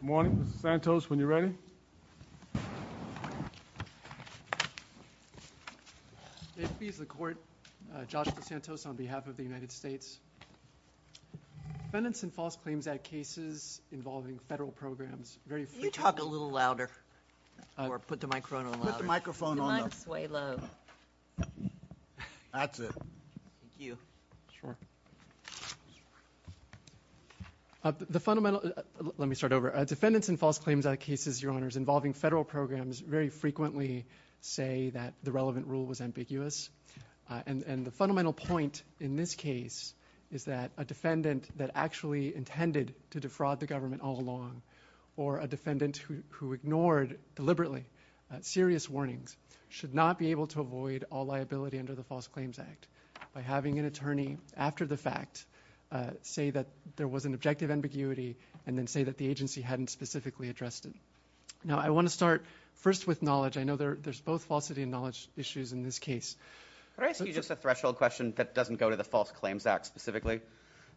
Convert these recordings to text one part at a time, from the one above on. Good morning. Santos, when you're ready. This is the Court. Joshua Santos on behalf of the United States. Defendants in False Claims Act cases involving federal programs Can you talk a little louder or put the microphone on louder? Put the microphone on. That's it. Thank you. Sure. Let me start over. Defendants in False Claims Act cases involving federal programs very frequently say that the relevant rule was ambiguous. The fundamental point in this case is that a defendant that actually intended to defraud the government all along or a defendant who ignored deliberately serious warnings should not be able to avoid all liability under the False Claims Act by having an attorney after the fact say that there was an objective ambiguity and then say that the agency hadn't specifically addressed it. Now I want to start first with knowledge. I know there's both falsity and knowledge issues in this case. Can I ask you just a threshold question that doesn't go to the False Claims Act specifically?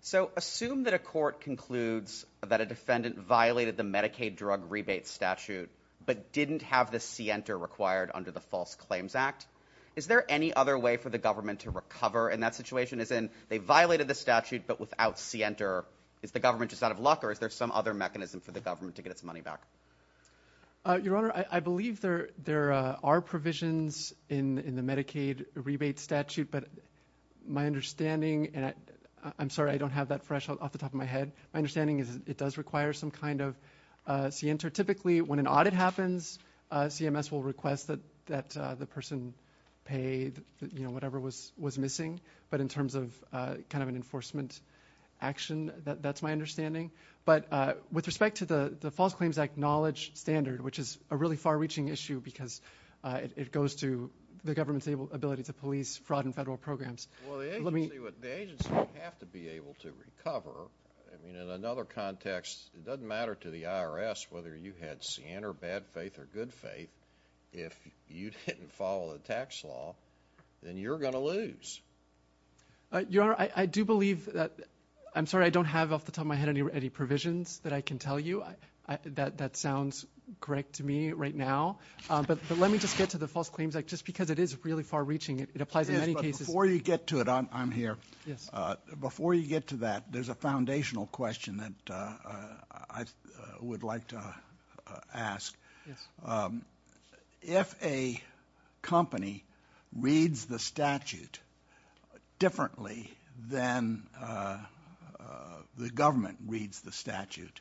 So assume that a court concludes that a defendant violated the Medicaid drug rebate statute but didn't have the scienter required under the False Claims Act. Is there any other way for the government to get its money back? Your Honor, I believe there are provisions in the Medicaid rebate statute but my understanding and I'm sorry I don't have that threshold off the top of my head. My understanding is it does require some kind of scienter. Typically when an audit happens CMS will request that the person paid whatever was missing but in terms of kind of an enforcement action that's my understanding. With respect to the False Claims Act knowledge standard which is a really far reaching issue because it goes to the government's ability to police fraud in federal programs. The agency would have to be able to recover. In another context it doesn't matter to the IRS whether you had sin or bad faith or good faith if you didn't follow the tax law then you're going to lose. Your Honor, I do believe that I'm sorry I don't have off the top of my head any provisions that I can tell you. That sounds correct to me right now but let me just get to the False Claims Act just because it is really far reaching. It applies in many cases. Before you get to that there's a foundational question that I would like to ask. If a company reads the statute differently than the government reads the statute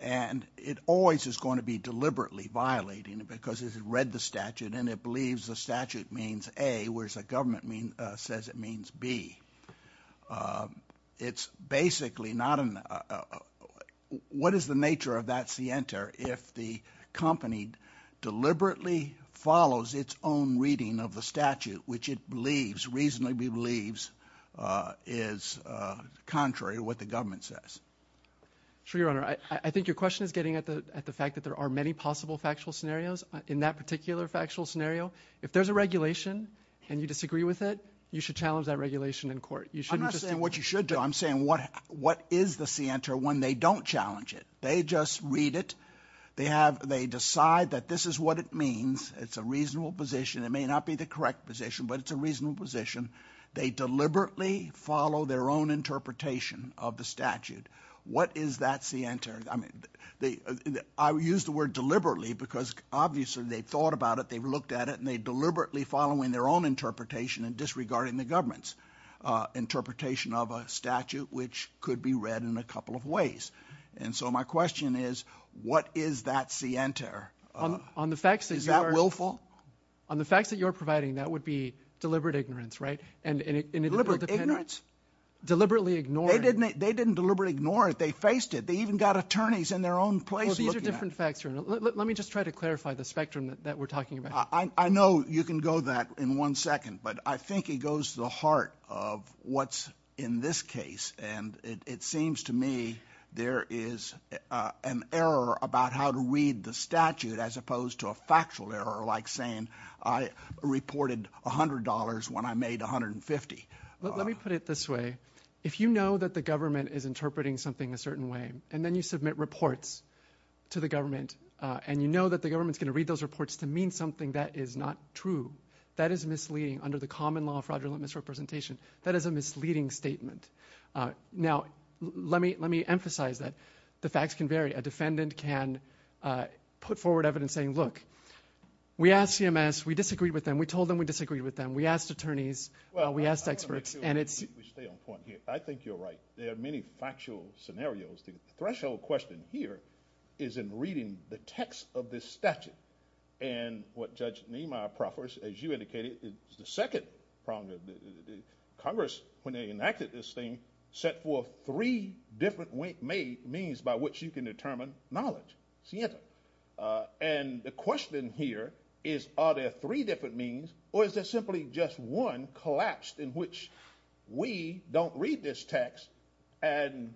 and it always is going to be deliberately violating because it has read the statute and it believes the statute means A whereas the government says it means B. It's basically not, what is the nature of that scienter if the company deliberately follows its own reading of the statute which it believes reasonably believes is contrary to what the government says? Sure, Your Honor. I think your question is getting at the fact that there are many possible factual scenarios. In that particular factual scenario if there's a regulation and you disagree with it you should challenge that regulation in court. I'm not saying what you should do. I'm saying what is the scienter when they don't challenge it. They just read it. They decide that this is what it means. It's a reasonable position. It may not be the correct position but it's a reasonable position. They deliberately follow their own interpretation of the statute. What is that scienter? I use the word deliberately because obviously they thought about it. They looked at it and they deliberately following their own interpretation and disregarding the government's interpretation of a statute which could be read in a couple of ways. So my question is what is that scienter? Is that willful? On the facts that you're providing that would be deliberate ignorance, right? Deliberate ignorance? Deliberately ignoring. They didn't deliberately ignore it. They faced it. They even got attorneys in their own place looking at it. Let me just try to clarify the spectrum that we're talking about. I know you can go that in one second but I think it goes to the heart of what's in this case and it seems to me there is an error about how to read the statute as opposed to a factual error like saying I reported $100 when I made $150. Let me put it this way. If you know that the government is interpreting something a certain way and then you submit reports to the government and you know that the government's going to read those reports to mean something that is not true, that is misleading under the common law of fraudulent misrepresentation. That is a misleading statement. Now let me emphasize that the facts can vary. A defendant can put forward evidence saying look we asked CMS. We disagreed with them. We told them we disagreed with them. We asked attorneys. We asked experts. I think you're right. There are many factual scenarios. The threshold question here is in reading the text of this statute and what Judge Niemeyer proffers as you indicated is the second problem Congress when they enacted this thing set forth three different means by which you can determine knowledge. And the question here is are there three different means or is there simply just one collapsed in which we don't read this text and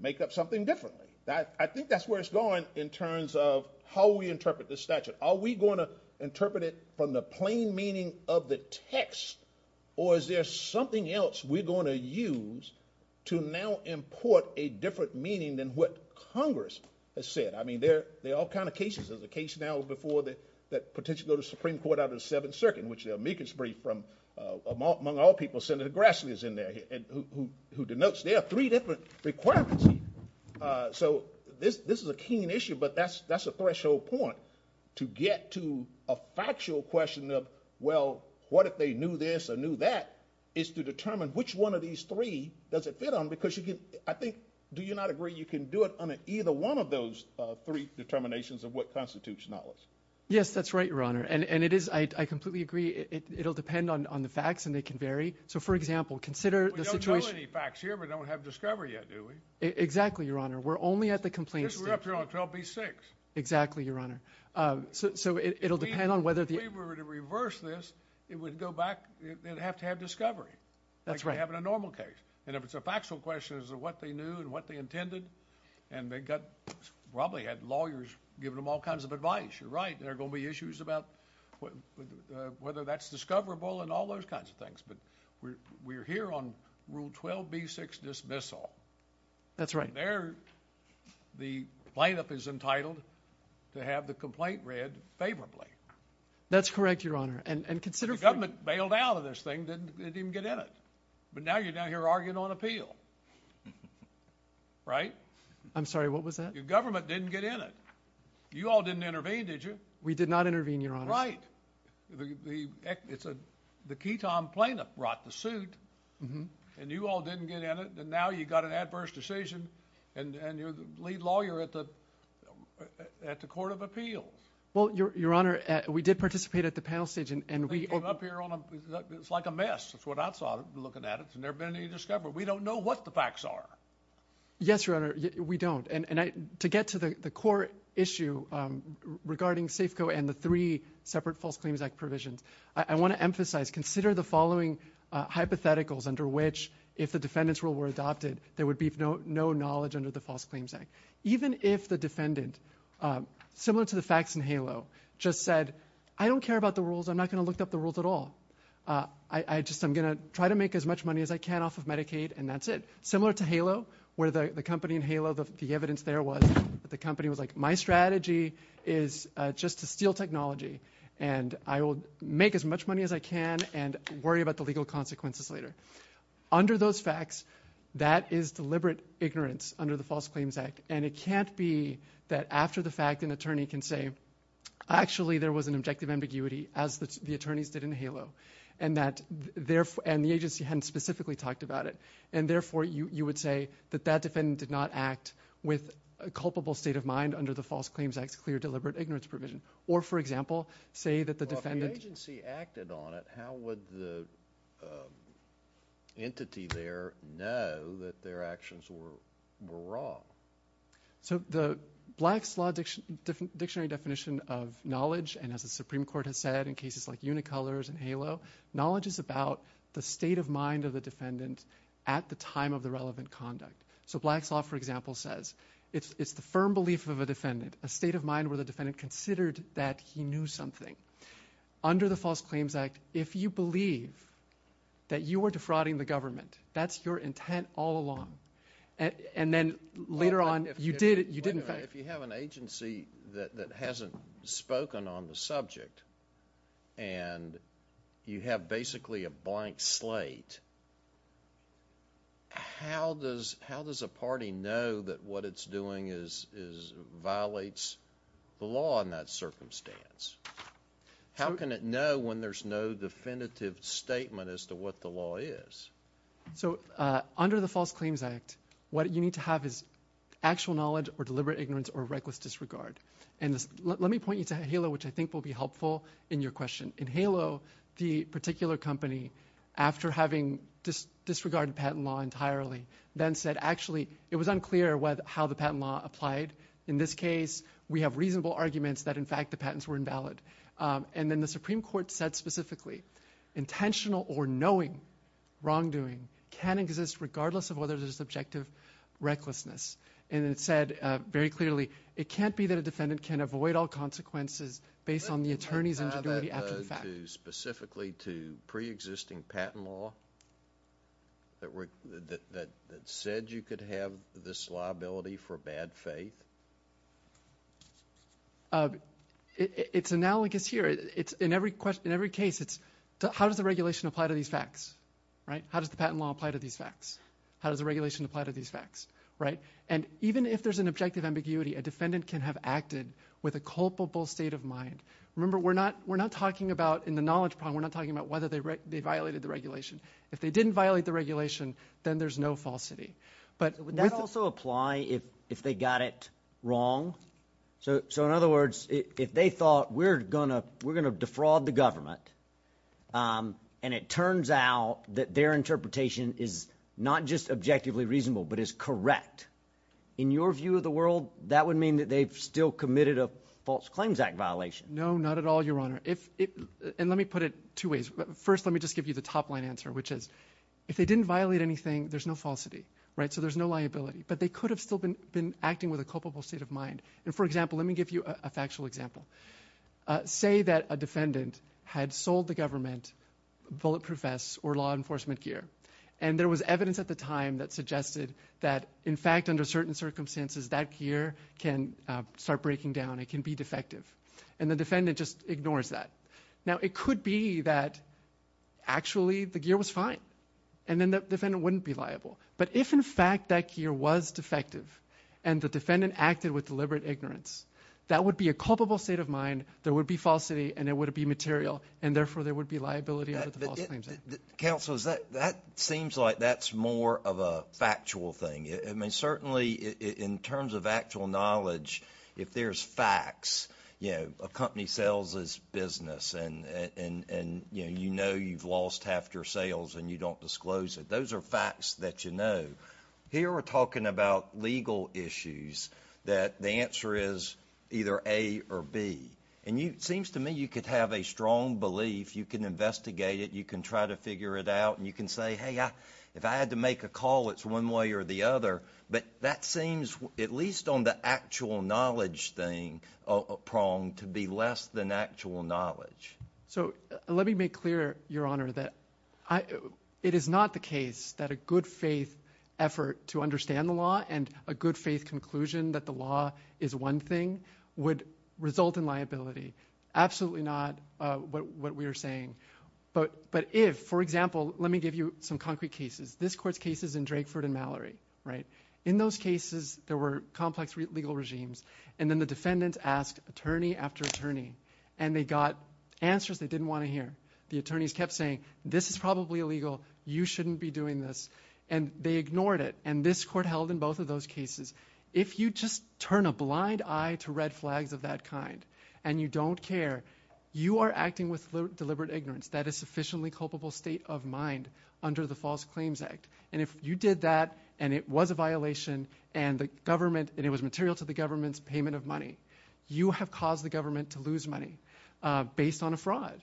make up something different. I think that's where it's going in terms of how we interpret this statute. Are we going to interpret it from the plain meaning of the text or is there something else we're going to use to now import a different meaning than what Congress has said. I mean there are all kinds of cases. There's a case now before that potentially go to Supreme Court after the 7th Circuit in which they'll make it free from among all people Senator Grassley is in there who denotes there are three different requirements. So this is a keen issue but that's a threshold point to get to a factual question of well what if they knew this or knew that is to determine which one of these three does it fit on because I think do you not agree you can do it on either one of those three determinations of what constitutes knowledge. Yes that's right Your Honor and it is I completely agree it'll depend on the facts and they can vary. So for example consider the situation. We don't know any facts here but don't have discovery yet do we? Exactly Your Honor. We're only at the complaint stage. We're up here on 12B6. Exactly Your Honor. So it'll depend on whether... If we were to reverse this it would go back it'd have to have discovery. That's right. Like you have in a normal case and if it's a factual question as to what they knew and what they intended and they got probably had lawyers giving them all kinds of advice. You're right there are going to be issues about whether that's discoverable and all those kinds of things but we're here on Rule 12B6 dismissal. That's right. There the lineup is entitled to have the complaint read favorably. That's correct Your Honor and consider... The government bailed out of this thing didn't get in it. But now you're down here arguing on appeal. Right? I'm sorry what was that? Your government didn't get in it. You all didn't intervene did you? We did not intervene Your Honor. Right. The key time plaintiff brought the suit and you all didn't get in it and now you got an adverse decision and you're the lead lawyer at the Court of Appeal. Well Your Honor we did participate at the panel stage and we... It's like a mess. That's what I saw looking at it. There's never been any discovery. We don't know what the facts are. Yes Your Honor. We don't and to get to the core issue regarding SAFCO and the three separate False Claims Act provisions. I want to emphasize consider the following hypotheticals under which if the defendants rule were adopted there would be no knowledge under the False Claims Act. Even if the defendant similar to the facts in HALO just said I don't care about the rules. I'm not going to look up the rules at all. I'm going to try to make as much money as I can off of Medicaid and that's it. Similar to HALO where the company in HALO the evidence there was that the company was like my strategy is just to steal technology and I will make as much money as I can and worry about the legal consequences later. Under those facts that is deliberate ignorance under the False Claims Act and it can't be that after the fact an attorney can say actually there was an objective ambiguity as the attorney said in HALO and the agency hadn't specifically talked about it and therefore you would say that that defendant did not act with a culpable state of mind under the False Claims Act clear deliberate ignorance provision or for example say that the defendant... Well if the agency acted on it how would the entity there know that their actions were wrong? Black's Law dictionary definition of knowledge and as the Supreme Court has said in cases like Unicolors and HALO knowledge is about the state of mind of the defendant at the time of the relevant conduct so Black's Law for example says it's the firm belief of a defendant a state of mind where the defendant considered that he knew something under the False Claims Act if you believe that you were defrauding the government that's your intent all along and then later on... Wait a minute if you have an agency that hasn't spoken on the subject and you have basically a blank slate how does a party know that what it's doing violates the law in that circumstance? How can it know when there's no definitive statement as to what the law is? Under the False Claims Act what you need to have is actual knowledge or deliberate ignorance or reckless disregard and let me point you to HALO which I think will be helpful in your question. In HALO the particular company after having disregarded patent law entirely then said actually it was unclear how the patent law applied in this case we have reasonable arguments that in fact the patents were invalid and then the Supreme Court said specifically intentional or knowing wrongdoing can exist regardless of whether there's objective recklessness and it said very clearly it can't be that a defendant can avoid all consequences based on the attorney's ability to act on the fact. Specifically to pre-existing patent law that said you could have this liability for bad faith? It's analogous here. In every case it's how does the regulation apply to these facts? How does the patent law apply to these facts? How does the regulation apply to these facts? Even if there's an objective ambiguity a defendant can have acted with a culpable state of mind. Remember we're not talking about in the knowledge problem we're not talking about whether they violated the regulation. If they didn't violate the regulation then there's no falsity. Would that also apply if they got it wrong? So in other words if they thought we're going to defraud the government and it turns out that their interpretation is not just objectively reasonable but is correct. In your view of the world that would mean that they've still committed a False Claims Act violation. No not at all Your Honor. And let me put it two ways. First let me just give you the top line answer which is if they didn't violate anything there's no falsity. So there's no liability. But they could have still been acting with a culpable state of mind. For example let me give you a factual example. Say that a defendant had sold the government bullet proof vests or law enforcement gear. And there was evidence at the time that suggested that in fact under certain circumstances that gear can start breaking down. It can be defective. And the defendant just ignores that. Now it could be that actually the gear was fine. And then the defendant wouldn't be liable. But if in fact that gear was defective and the defendant acted with deliberate ignorance that would be a culpable state of mind. There would be falsity and it would be material and therefore there would be liability under the False Claims Act. Counselors that seems like that's more of a factual thing. I mean certainly in terms of actual knowledge if there's facts you know a company sells its business and you know you've lost half your sales and you don't disclose it. Those are facts that you know. Here we're talking about legal issues that the answer is either A or B. And it seems to me you could have a strong belief. You can investigate it. You can try to figure it out. And you can say hey if I had to make a call it's one way or the other. But that seems at least on the actual knowledge thing prong to be less than actual knowledge. So let me make clear Your Honor that it is not the case that a good faith effort to understand the law and a good faith conclusion that the law is one thing would result in liability. Absolutely not what we are saying. But if for example let me give you some concrete cases. This court's case is in Drakeford and Mallory. In those cases there were complex legal regimes and then the defendant asked attorney after attorney and they got answers they didn't want to hear. The attorneys kept saying this is probably illegal. You shouldn't be doing this. And they ignored it. And this court held in both of those cases if you just turn a blind eye to red flags of that kind and you don't care you are acting with deliberate ignorance. That is sufficiently culpable state of mind under the False Claims Act. And if you did that and it was a violation and the government and it was material to the government's payment of money you have caused the government to lose money based on a fraud.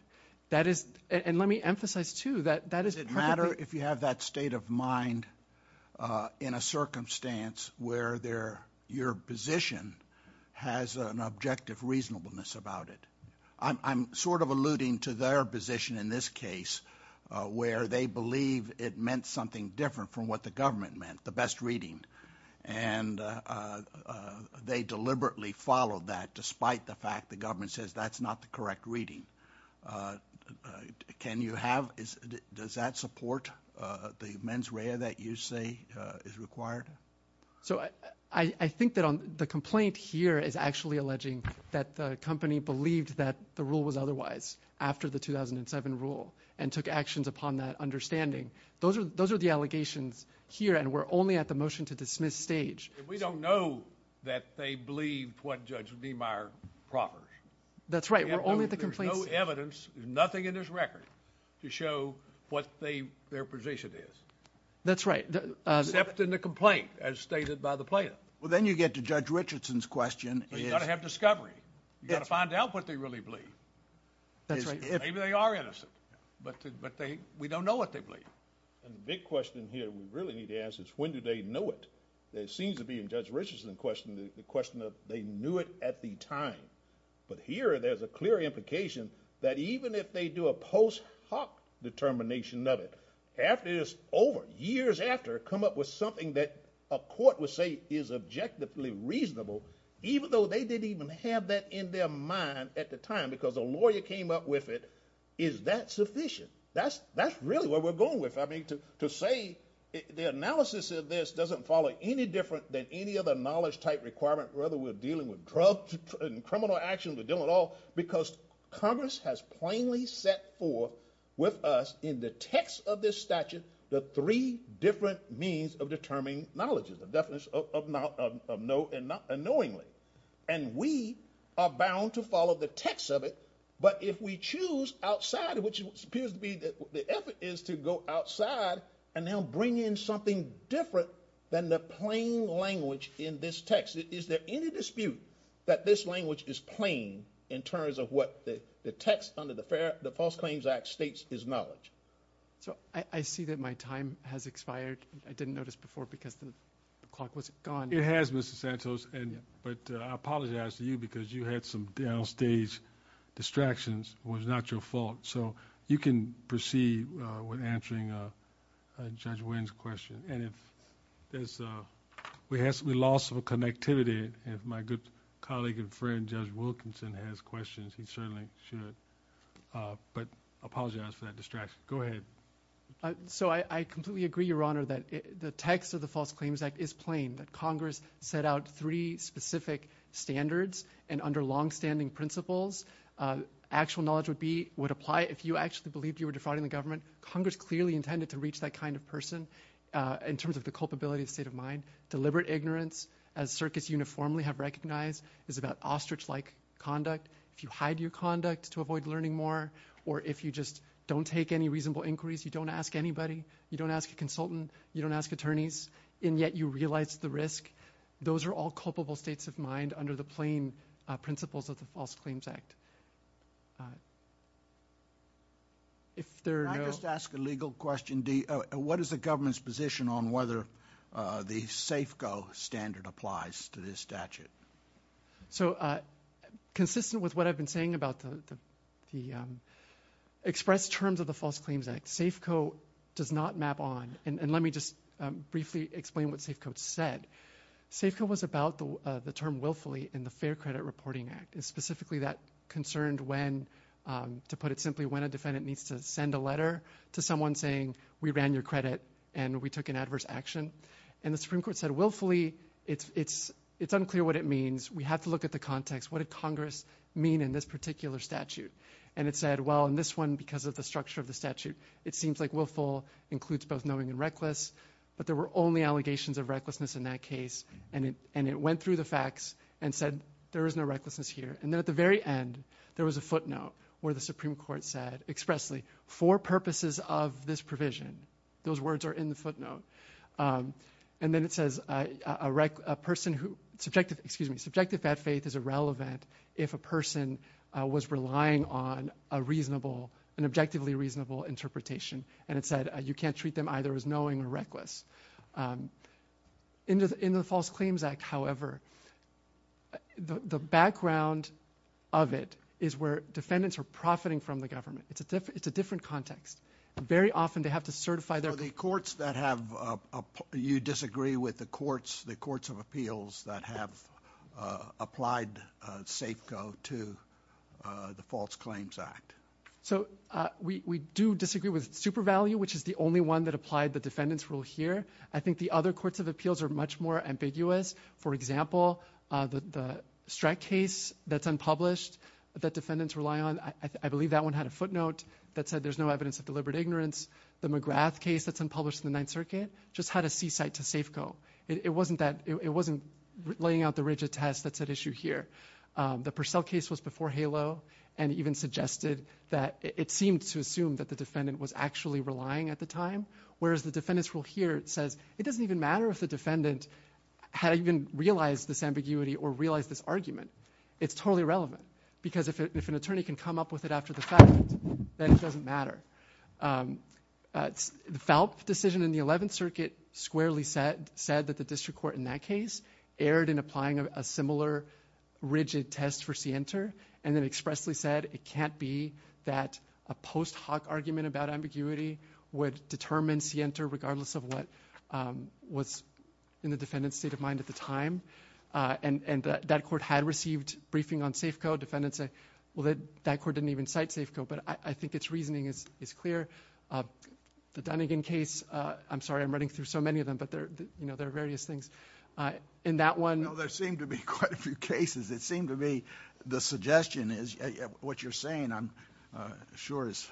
And let me emphasize too Does it matter if you have that state of mind in a circumstance where your position has an objective reasonableness about it. I'm sort of alluding to their position in this case where they believe it meant something different from what the government meant. The best reading and they deliberately followed that despite the fact the government says that's not the correct reading. Can you have, does that support the mens rea that you say is required? I think that the complaint here is actually alleging that the company believes that the rule was otherwise after the 2007 rule and took actions upon that understanding. Those are the allegations here and we're only at the motion to dismiss stage. We don't know that they believe what Judge Bemeier proposes. There's no evidence, nothing in this record to show what their position is. That's right. Except in the complaint as stated by the plaintiff. Well then you get to Judge Richardson's question. You've got to have discovery. You've got to find out what they really believe. Maybe they are innocent but we don't know what they really need to ask is when did they know it? There seems to be in Judge Richardson's question the question of they knew it at the time. But here there's a clear implication that even if they do a post hoc determination that is over, years after, come up with something that a court would say is objectively reasonable even though they didn't even have that in their mind at the time because a lawyer came up with it, is that sufficient? That's really what we're going to deal with. To say the analysis of this doesn't follow any different than any other knowledge type requirement whether we're dealing with drugs and criminal action, we're dealing with all because Congress has plainly set forth with us in the text of this statute the three different means of determining knowledge. And we are bound to follow the text of it but if we choose outside which appears to be the effort is to go outside and now bring in something different than the plain language in this text, is there any dispute that this language is plain in terms of what the text under the False Claims Act states is knowledge? So I see that my time has expired. I didn't notice before because the clock was gone. It has Mr. Santos but I apologize to you because you had some down stage distractions. It was not your fault. So you can proceed with answering Judge Wynn's question. We have some loss of connectivity. If my good colleague and friend Judge Wilkinson has questions, he certainly should. But I apologize for that distraction. Go ahead. So I completely agree, Your Honor, that the text of the False Claims Act is plain. That Congress set out three specific standards and under long-standing principles, actual knowledge would apply if you actually believed you were defrauding the government. Congress clearly intended to reach that kind of person in terms of the culpability of the state of mind. Deliberate ignorance as circuits uniformly have recognized is about ostrich-like conduct. If you hide your conduct to avoid learning more or if you just don't take any reasonable inquiries, you don't ask anybody, you don't ask a consultant, you don't ask attorneys and yet you realize the risk. Those are all culpable states of mind under the plain principles of the False Claims Act. I just ask a legal question. What is the government's position on whether the SAFCO standard applies to this statute? So consistent with what I've been saying about the expressed terms of the False Claims Act, SAFCO said, SAFCO was about the term willfully in the Fair Credit Reporting Act. Specifically that concerned when, to put it simply, when a defendant needs to send a letter to someone saying we ran your credit and we took an adverse action. And the Supreme Court said willfully it's unclear what it means. We have to look at the context. What did Congress mean in this particular statute? And it said, well in this one because of the structure of the statute, it seems like willful includes both knowing and reckless but there were only allegations of recklessness in that case. And it went through the facts and said there is no recklessness here. And at the very end there was a footnote where the Supreme Court said expressly, for purposes of this provision. Those words are in the footnote. And then it says a person who, excuse me, subjective faith is irrelevant if a person was relying on a reasonable, an objectively reasonable interpretation. And it said you can't treat them either as knowing or reckless. In the False Claims Act, however, the background of it is where defendants are profiting from the government. It's a different context. Very often they have to certify their The courts that have, you disagree with the courts, the courts of appeals that have applied SAFCO to the False Claims Act. So we do disagree with SuperValue, which is the only one that applied the defendant's rule here. I think the other courts of appeals are much more ambiguous. For example, the Streck case that's unpublished that defendants rely on, I believe that one had a footnote that said there's no evidence of deliberate ignorance. The McGrath case that's unpublished in the Ninth Circuit just had a seaside to SAFCO. It wasn't that, it wasn't laying out the rigid test that's at issue here. The Purcell case was before HALO and even suggested that it seemed to assume that the defendant was actually relying at the time, whereas the defendant's rule here says it doesn't even matter if the defendant had even realized this ambiguity or realized this argument. It's totally irrelevant because if an attorney can come up with it after the fact, then it doesn't matter. The Phelps decision in the Eleventh Circuit squarely said that the district court in that case erred in applying a similar rigid test for scienter, and it expressly said it can't be that a post hoc argument about ambiguity would determine scienter regardless of what was in the defendant's state of mind at the time. That court had received briefing on SAFCO. Defendants say, well that court didn't even cite SAFCO, but I think it's reasoning is clear. The Dunnigan case, I'm sorry I'm running through so many of them, but there are various things. In that one... There seem to be quite a few cases. It seems to me the suggestion is what you're saying I'm sure is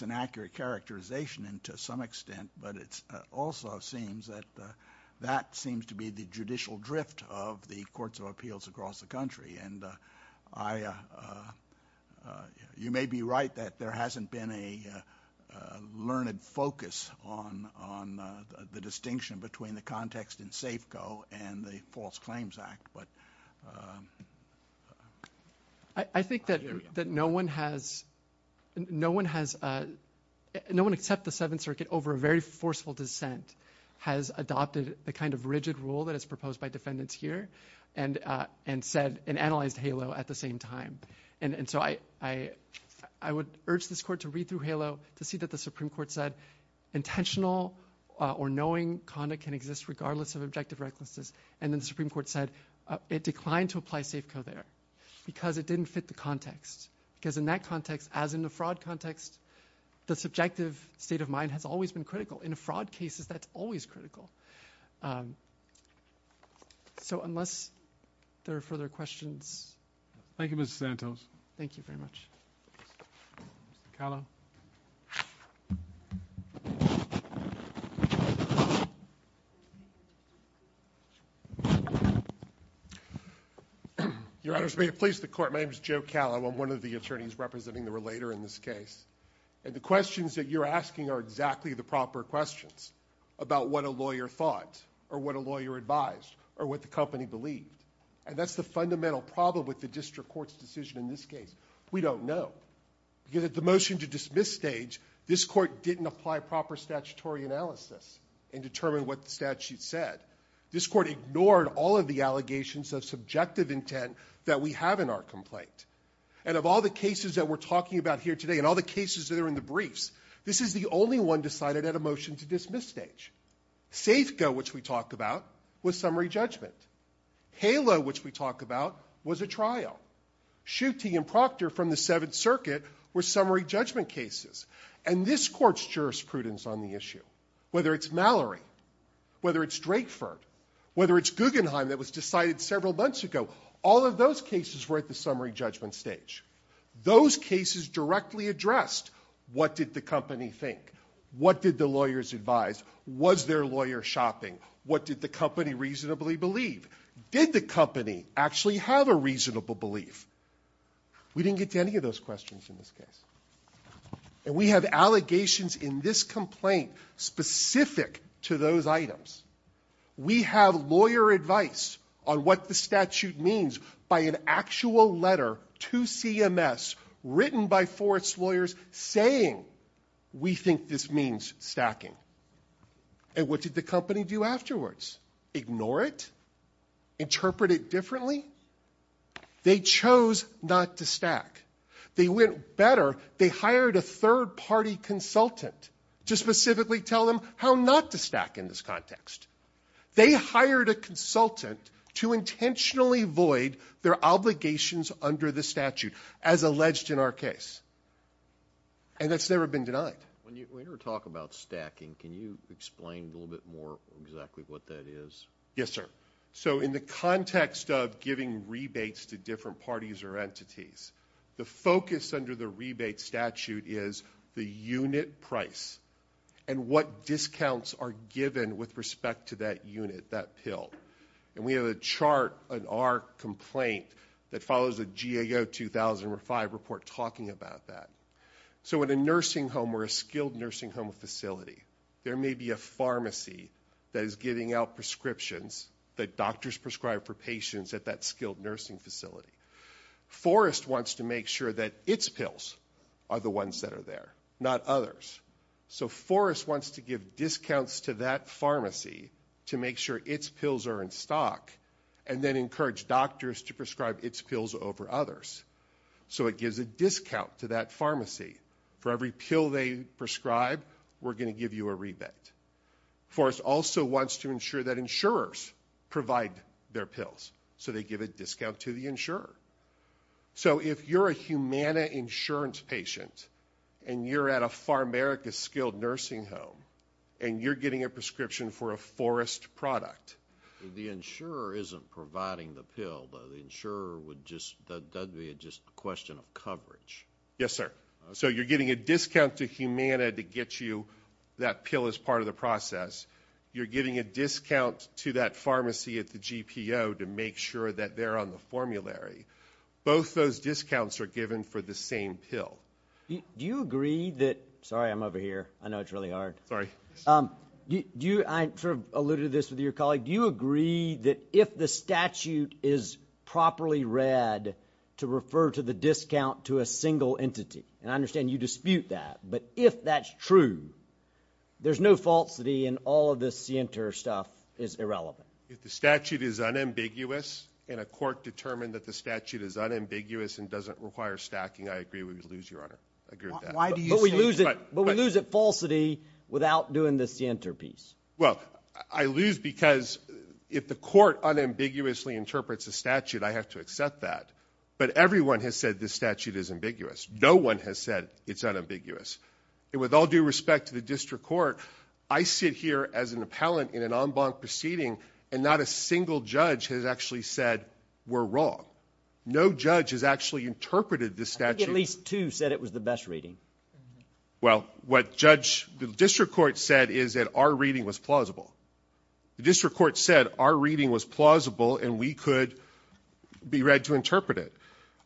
an accurate characterization to some extent, but it also seems that that seems to be the judicial drift of the courts of appeals across the country. You may be right that there hasn't been a learned focus on the distinction between the context in fact, but... I think that no one has no one except the 7th circuit over a very forceful dissent has adopted the kind of rigid rule that is proposed by defendants here and analyzed HALO at the same time. I would urge this court to read through HALO to see that the Supreme Court said intentional or knowing conduct can exist regardless of objective prerequisites, and then the Supreme Court said it declined to apply SAFCO there because it didn't fit the context. Because in that context, as in the fraud context, the subjective state of mind has always been critical. In a fraud case, that's always critical. Unless there are further questions... Thank you, Mr. Santos. Thank you very much. Your Honors, may it please the Court, my name is Joe Callum. I'm one of the attorneys representing the relator in this case. And the questions that you're asking are exactly the proper questions about what a lawyer thought, or what a lawyer advised, or what the company believed. And that's the fundamental problem with the district court's decision in this case. We don't know. Yet at the motion to dismiss stage, this court didn't apply proper statutory analysis and determine what the statute said. This court ignored all of the allegations of subjective intent that we have in our complaint. And of all the cases that we're talking about here today, and all the cases that are in the briefs, this is the only one decided at a motion to dismiss stage. SAFCO, which we talked about, was summary judgment. HALO, which we talked about, was a trial. Schutte and Proctor from the Seventh Circuit were summary judgment cases. And this court's jurisprudence on the issue, whether it's Mallory, whether it's Drayford, whether it's Guggenheim that was decided several months ago, all of those cases were at the summary judgment stage. Those cases directly addressed what did the company think? What did the lawyers advise? Was their lawyer shopping? What did the company reasonably believe? Did the company actually have a reasonable belief? We didn't get to any of those questions in this case. And we have allegations in this complaint specific to those items. We have lawyer advice on what the statute means by an actual letter to CMS written by Forrest's lawyers saying we think this means stacking. And what did the company do afterwards? Ignore it? Interpret it differently? They chose not to stack. They went better, they hired a consultant to specifically tell them how not to stack in this context. They hired a consultant to intentionally void their obligations under the statute as alleged in our case. And it's never been denied. When you talk about stacking, can you explain a little bit more exactly what that is? Yes, sir. So in the context of giving rebates to different parties or entities, the focus under the rebate statute is the unit price and what discounts are given with respect to that unit, that pill. And we have a chart on our complaint that follows a GAO 2005 report talking about that. So in a nursing home or a skilled nursing home facility, there may be a pharmacy that is giving out prescriptions that doctors prescribe for patients at that skilled nursing facility. Forrest wants to make sure that its pills are the ones that are there, not others. So Forrest wants to give discounts to that pharmacy to make sure its pills are in stock and then encourage doctors to prescribe its pills over others. So it gives a discount to that pharmacy. For every pill they prescribe, we're going to give you a rebate. Forrest also wants to ensure that insurers provide their pills. So they give a discount to the insurer. So if you're a Humana insurance patient and you're at a PharAmerica skilled nursing home and you're getting a prescription for a Forrest product... The insurer isn't providing the pill. The insurer would just... it's just a question of coverage. Yes, sir. So you're getting a discount to Humana to get you that pill as part of the process. You're getting a discount to that pharmacy at the GPO to make sure that they're on the formulary. Both those discounts are given for the same pill. Do you agree that... Sorry, I'm over here. I know it's really hard. Sorry. I sort of alluded to this with your colleague. Do you agree that if the statute is properly read to refer to the discount to a single entity? And I understand you dispute that. But if that's true, there's no falsity and all of this CNTR stuff is irrelevant. If the statute is unambiguous and a court determined that the statute is unambiguous and doesn't require stacking, I agree we would lose, Your Honor. But we lose at falsity without doing this CNTR piece. Well, I lose because if the court unambiguously interprets the statute, I have to accept that. But everyone has said this statute is ambiguous. No one has said it's unambiguous. And with all due respect to the district court, I sit here as an unblocked proceeding and not a single judge has actually said we're wrong. No judge has actually interpreted this statute... I think at least two said it was the best reading. Well, what judge... the district court said is that our reading was plausible. The district court said our reading was plausible and we could be read to interpret it.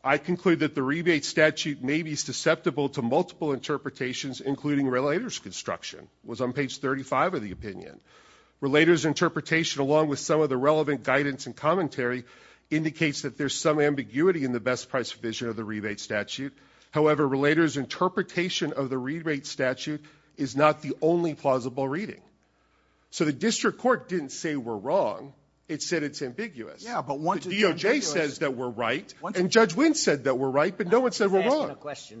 I conclude that the rebate statute may be susceptible to multiple interpretations, including relator's construction. It was on page 35 of the opinion. Relator's interpretation along with some of the relevant guidance and commentary indicates that there's some ambiguity in the best price provision of the rebate statute. However, relator's interpretation of the rebate statute is not the only plausible reading. So the district court didn't say we're wrong. It said it's ambiguous. DOJ says that we're right and Judge Wynne said that we're right but no one said we're wrong.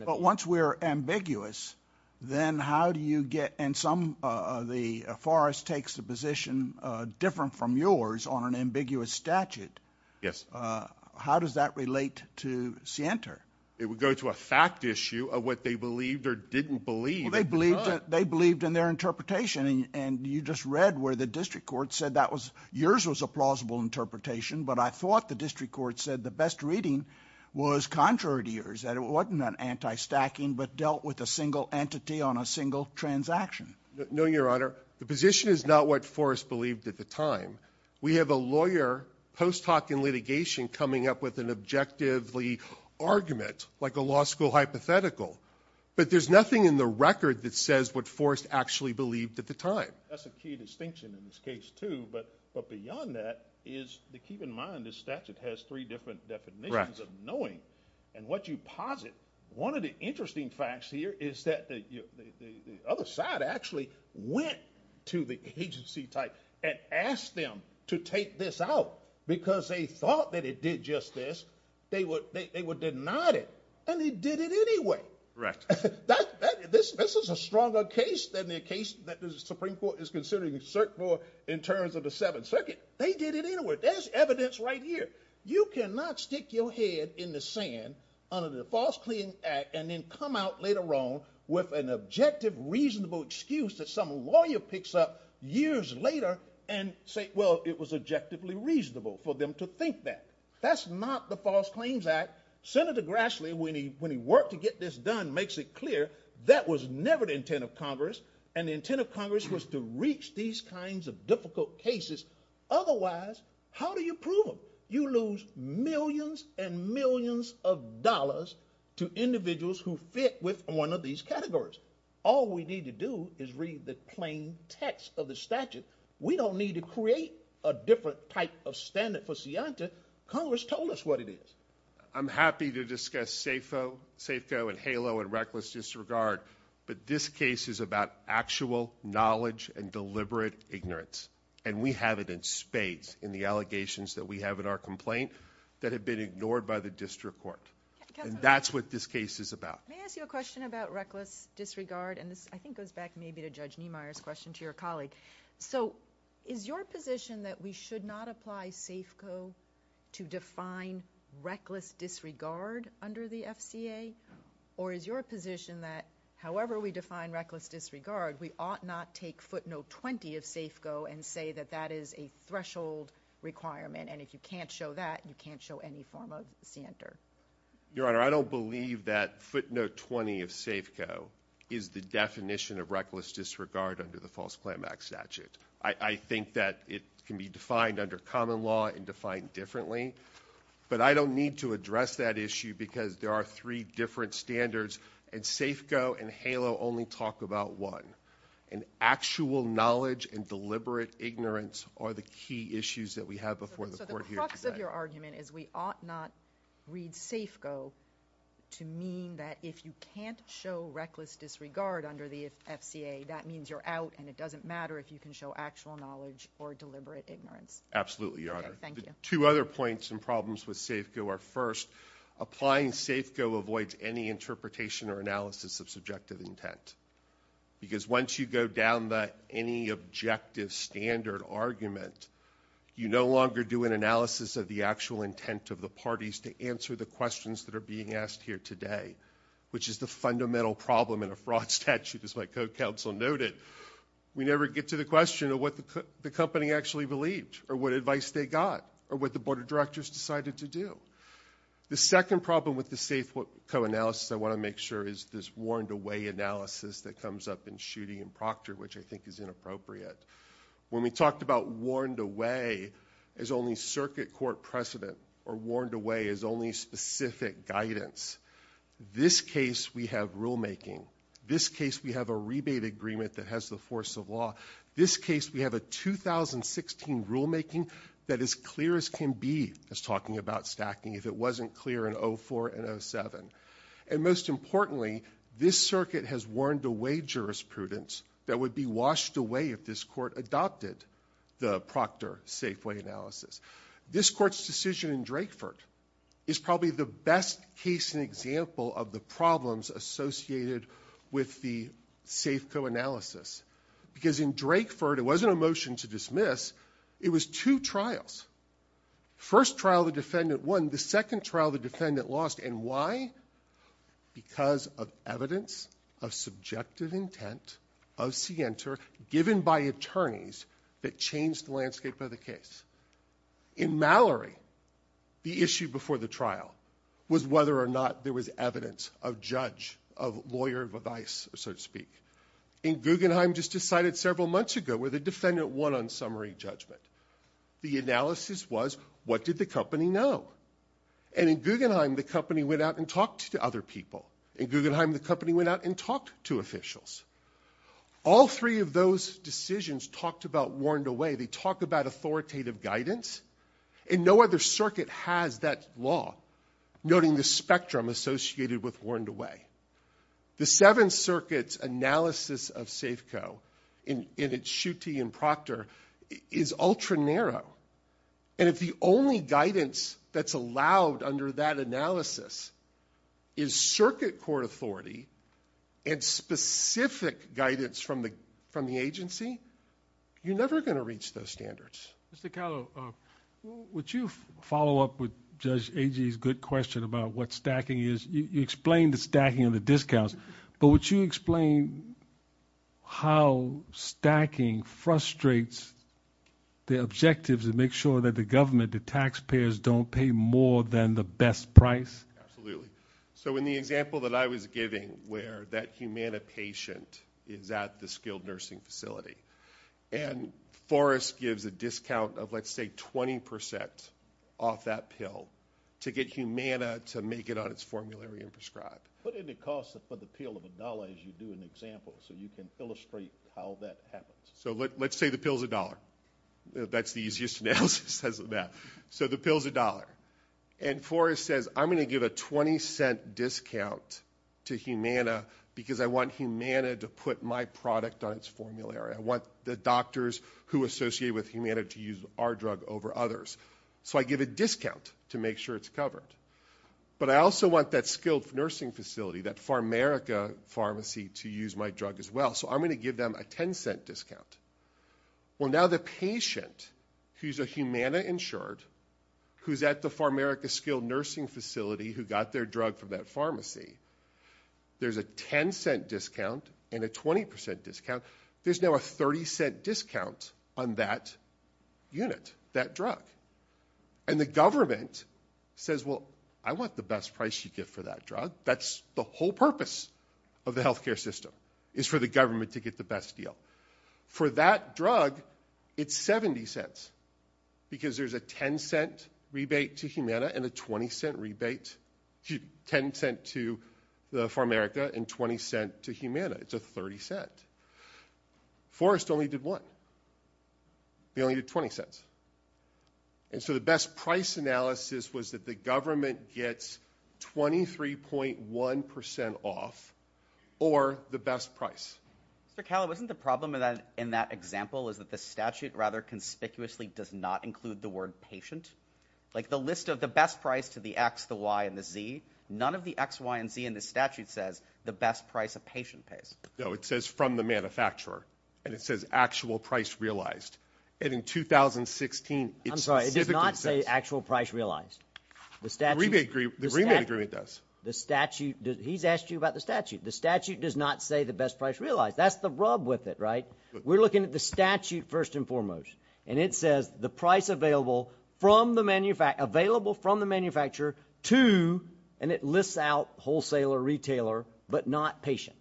But once we're ambiguous, then how do you get... and some of the... Forrest takes the position different from yours on an ambiguous statute. Yes. How does that relate to Sienter? It would go to a fact issue of what they believed or didn't believe. Well, they believed in their interpretation and you just read where the district court said that was yours was a plausible interpretation but I thought the district court said the best reading was contrary to yours, that it wasn't an anti-stacking but dealt with a single entity on a single transaction. No, your honor. The position is not what Forrest believed at the time. We have a lawyer post hoc in litigation coming up with an objectively argument like a law school hypothetical but there's nothing in the record that says what Forrest actually believed at the time. That's a key distinction in this case too but beyond that is to keep in mind this statute has three different definitions of knowing and what you posited. One of the interesting facts here is that the other side actually went to the agency type and asked them to take this out because they thought that it did just this. They were denied it and they did it anyway. This is a stronger case than the case that the Supreme Court is considering cert for in terms of the 7th Circuit. They did it anyway. There's evidence right here. You cannot stick your head in the sand under the False Claims Act and then come out later on with an objective reasonable excuse that some lawyer picks up years later and say, well, it was objectively reasonable for them to think that. That's not the False Claims Act. Senator Grassley, when he worked to get this done, makes it clear that was never the intent of Congress and the intent of Congress was to reach these kinds of difficult cases. Otherwise, how do you prove you lose millions and millions of dollars to individuals who fit with one of these categories? All we need to do is read the plain text of the statute. We don't need to create a different type of standard for Siantis. Congress told us what it is. I'm happy to discuss SAFO and HALO and reckless disregard, but this case is about actual knowledge and deliberate ignorance and we have it in these, in the allegations that we have in our complaint that have been ignored by the district court. That's what this case is about. May I ask you a question about reckless disregard? I think this goes back maybe to Judge Niemeyer's question to your colleague. Is your position that we should not apply SAFCO to define reckless disregard under the FCA or is your position that however we define reckless disregard, we ought not take footnote 20 of SAFCO and say that that is a threshold requirement and if you can't show that, you can't show any form of standard? Your Honor, I don't believe that footnote 20 of SAFCO is the definition of reckless disregard under the post-climax statute. I think that it can be defined under common law and defined differently, but I don't need to address that issue because there are three different standards and SAFCO and HALO only talk about one. And actual knowledge and deliberate ignorance are the key issues that we have before the court here today. So the crux of your argument is we ought not read SAFCO to mean that if you can't show reckless disregard under the FCA, that means you're out and it doesn't matter if you can show actual knowledge or deliberate ignorance. Absolutely, Your Honor. The two other points and problems with SAFCO are first, applying SAFCO avoids any interpretation or analysis of subjective intent because once you go down that any objective standard argument, you no longer do an analysis of the actual intent of the parties to answer the questions that are being asked here today, which is the fundamental problem in a fraud statute. As my co-counsel noted, we never get to the question of what the company actually believed or what advice they got or what the board of directors decided to do. The second problem with the SAFCO analysis I want to make sure is this warned away analysis that comes up in Schutte and Proctor, which I think is inappropriate. When we talked about warned away as only circuit court precedent or warned away as only specific guidance, this case we have rulemaking. This case we have a rebate agreement that has the force of law. This case we have a 2016 rulemaking that is clear as can be. I was talking about stacking. If it wasn't clear in most importantly, this circuit has warned away jurisprudence that would be washed away if this court adopted the Proctor SAFCO analysis. This court's decision in Drakeford is probably the best case and example of the problems associated with the SAFCO analysis because in Drakeford it wasn't a motion to dismiss, it was two trials. First trial the defendant won, the second trial the defendant lost. And why? Because of evidence of subjective intent, unscientific, given by attorneys that changed the landscape of the case. In Mallory the issue before the trial was whether or not there was evidence of judge, of lawyer, of vice so to speak. In Guggenheim just decided several months ago where the defendant won on summary judgment. The analysis was what did the company know? And in Guggenheim the company went out and talked to other people. In Guggenheim the company went out and talked to officials. All three of those decisions talked about warned away. They talked about authoritative guidance and no other circuit has that law noting the spectrum associated with warned away. The Seventh Circuit's analysis of SAFCO in its Schutte and Proctor is ultra narrow and if the only guidance that's allowed under that analysis is circuit court authority and specific guidance from the agency you're never going to reach those standards. Would you follow up with Judge Agee's good question about what stacking is? You explained the stacking and the discounts, but would you explain how stacking frustrates the objectives to make sure that the government, the taxpayers don't pay more than the best price? Absolutely. So in the example that I was giving where that Humana patient is at the skilled nursing facility and Forrest gives a discount of let's say 20% off that pill to get Humana to make it on its formulary and prescribe. Put in the cost for the pill of a dollar as you do an example so you can illustrate how that happens. So let's say the pill's a dollar. That's the easiest analysis. So the pill's a dollar and Forrest says I'm going to give a 20 cent discount to Humana because I want Humana to put my product on its formulary. I want the doctors who are associated with Humana to use our drug over others. So I give a discount to make sure it's covered. But I also want that skilled nursing facility, that Pharmarica pharmacy to use my drug as well. So I'm going to give them a 10 cent discount. Well now the patient who's a Humana insured who's at the Pharmarica skilled nursing facility who got their drug from that pharmacy, there's a 10 cent discount and a 20% discount. There's now a 30 cent discount on that unit, that drug. And the government says well I want the best price you get for that drug. That's the whole purpose of the healthcare system, is for the government to get the best deal. For that drug, it's 70 cents because there's a 10 cent rebate to Humana and a 20 cent rebate, 10 cent to Pharmarica and 20 cent to Humana. It's a 30 cent. Forrest only did one. He only did 20 cents. And so the best price analysis was that the government gets 23.1% off or the best price. Mr. Callow, isn't the problem in that example is that the statute rather conspicuously does not include the word patient? Like the list of the best price to the X, the Y, and the Z, none of the X, Y, and Z in the statute says the best price a patient pays. No, it says from the manufacturer. And it says actual price realized. And in 2016... I'm sorry, it did not say actual price realized. The rebate agreement does. He's asked you about the statute. The statute does not say the best price realized. That's the rub with it, right? We're looking at the statute first and foremost. And it says the price available from the manufacturer to, and it lists out wholesaler, retailer, but not patient.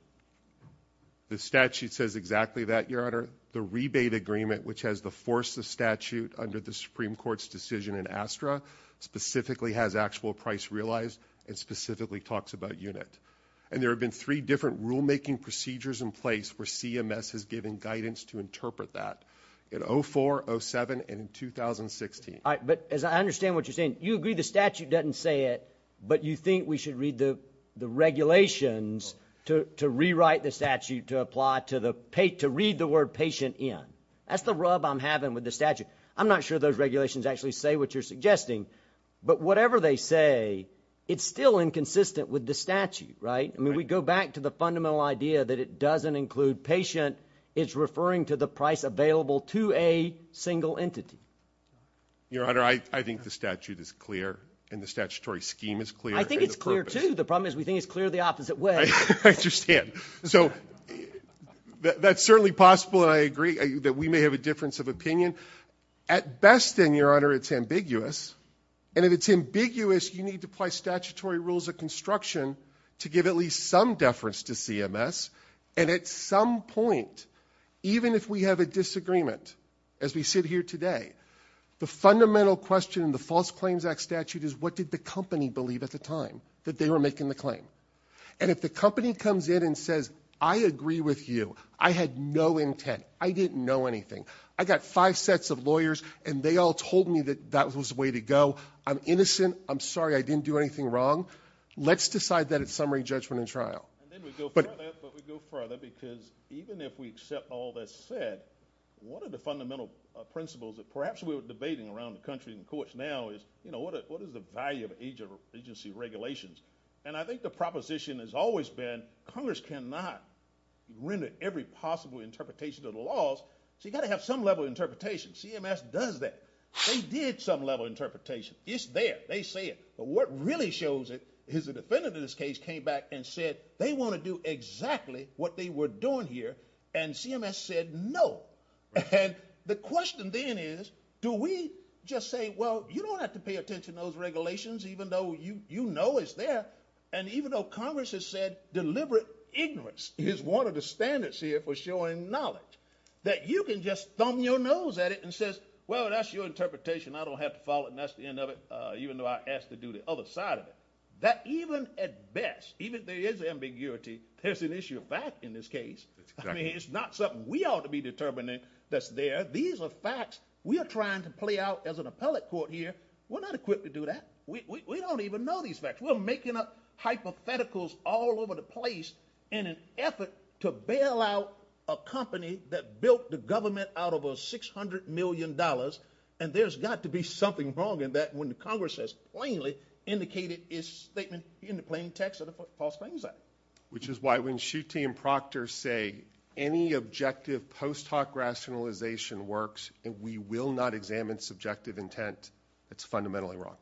The statute says exactly that, Your Honor. The rebate agreement, which has the force of statute under the Supreme Court's decision in ASTRA, specifically has actual price realized, and specifically talks about unit. And there have been three different rulemaking procedures in place where CMS has given guidance to interpret that in 04, 07, and in 2016. But as I understand what you're saying, you agree the statute doesn't say it, but you think we should read the regulations to rewrite the statute to apply to read the word patient in. That's the rub I'm having with the statute. I'm not sure those regulations actually say what you're suggesting, but whatever they say, it's still inconsistent with the statute, right? I mean, we go back to the fundamental idea that it doesn't include patient. It's referring to the price available to a single entity. Your Honor, I think the statute is clear, and the statutory scheme is clear. I think it's clear, too. The problem is we think it's clear the opposite way. I understand. So that's certainly possible, and I agree that we may have a difference of opinion. At best, then, Your Honor, it's ambiguous, and if it's ambiguous, you need to apply statutory rules of construction to give at least some deference to CMS, and at some point, even if we have a disagreement, as we sit here today, the fundamental question in the False Claims Act statute is what did the company believe at the time that they were making the claim? And if the company comes in and says, I agree with you, I had no intent. I didn't know anything. I got five sets of lawyers, and they all told me that that was the way to go. I'm innocent. I'm sorry. I didn't do anything wrong. Let's decide that at summary judgment and trial. And then we go further, but we go further because even if we accept all that's said, one of the fundamental principles that perhaps we were debating around the country in courts now is what is the value of agency regulations? And I think the proposition has always been Congress cannot render every possible interpretation of the laws. So you've got to have some level of interpretation. CMS does that. They did some level of interpretation. It's there. They say it. But what really shows it is the defendant in this case came back and said they want to do exactly what they were doing here, and CMS said no. And the question then is do we just say, well, you don't have to pay attention to those regulations even though you know it's there, and even though Congress has said deliberate ignorance is one of the standards here for showing knowledge, that you can just thumb your nose at it and say, well, that's your interpretation. I don't have to follow it, and that's the end of it, even though I asked to do the other side of it. That even at best, even if there is ambiguity, there's an issue of fact in this case. I mean, it's not something we ought to be determining that's there. These are facts we are trying to play out as an appellate court here. We're not equipped to do that. We don't even know these facts. We're making up hypotheticals all over the place in an effort to bail out a company that built the government out of a $600 million, and there's got to be something wrong in that when Congress has plainly indicated its statement in the plain text of the False Claims Act. Which is why when Schutte and Proctor say any objective post hoc rationalization works and we will not examine subjective intent, it's fundamentally wrong.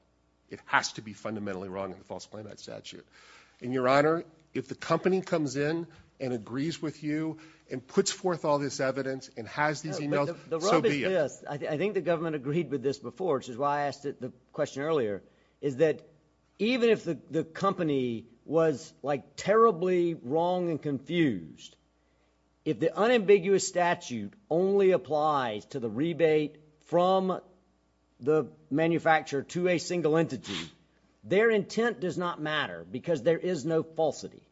It has to be fundamentally wrong in the False Claim Act statute. And Your Honor, if the company comes in and agrees with you and puts forth all this evidence and has these emails, so be it. I think the government agreed with this before, which is why I asked the question earlier, is that even if the company was like terribly wrong and confused, if the unambiguous statute only applies to the rebate from the manufacturer to a single entity, their intent does not matter because there is no falsity.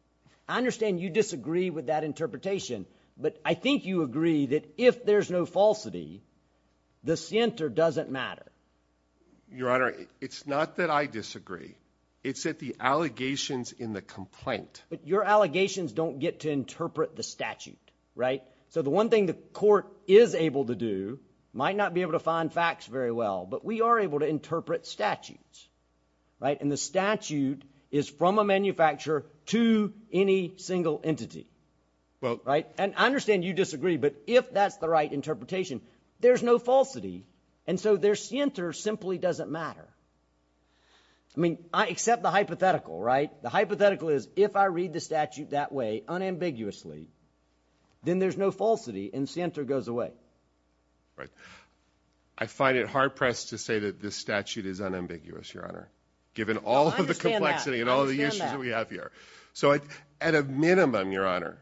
I understand you disagree with that interpretation, but I think you agree that if there's no falsity, the center doesn't matter. Your Honor, it's not that I disagree. It's that the allegations in the complaint... But your allegations don't get to interpret the statute, right? So the one thing the court is able to do might not be able to find facts very well, but we are able to interpret statutes. And the statute is from a manufacturer to any single entity. And I understand you disagree, but if that's the right interpretation, there's no falsity and so their center simply doesn't matter. I mean, except the hypothetical, right? The hypothetical is if I read the statute that way unambiguously, then there's no falsity and the center goes away. I find it hard pressed to say that this statute is unambiguous, Your Honor, given all of the complexity and all the issues we have here. So at a minimum, Your Honor,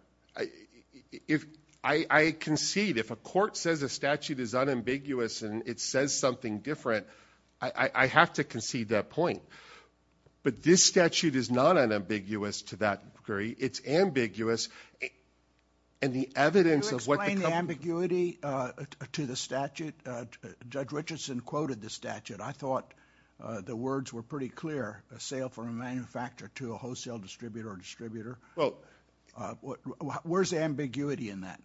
I concede if a court says a statute is unambiguous and it says something different, I have to concede that point. But this statute is not unambiguous to that degree. It's ambiguous in the evidence of what the company... Can you explain the ambiguity to the statute? Judge Richardson quoted the statute. I thought the words were pretty clear. A sale from a manufacturer to a wholesale distributor or distributor. Well... Where's the ambiguity in that?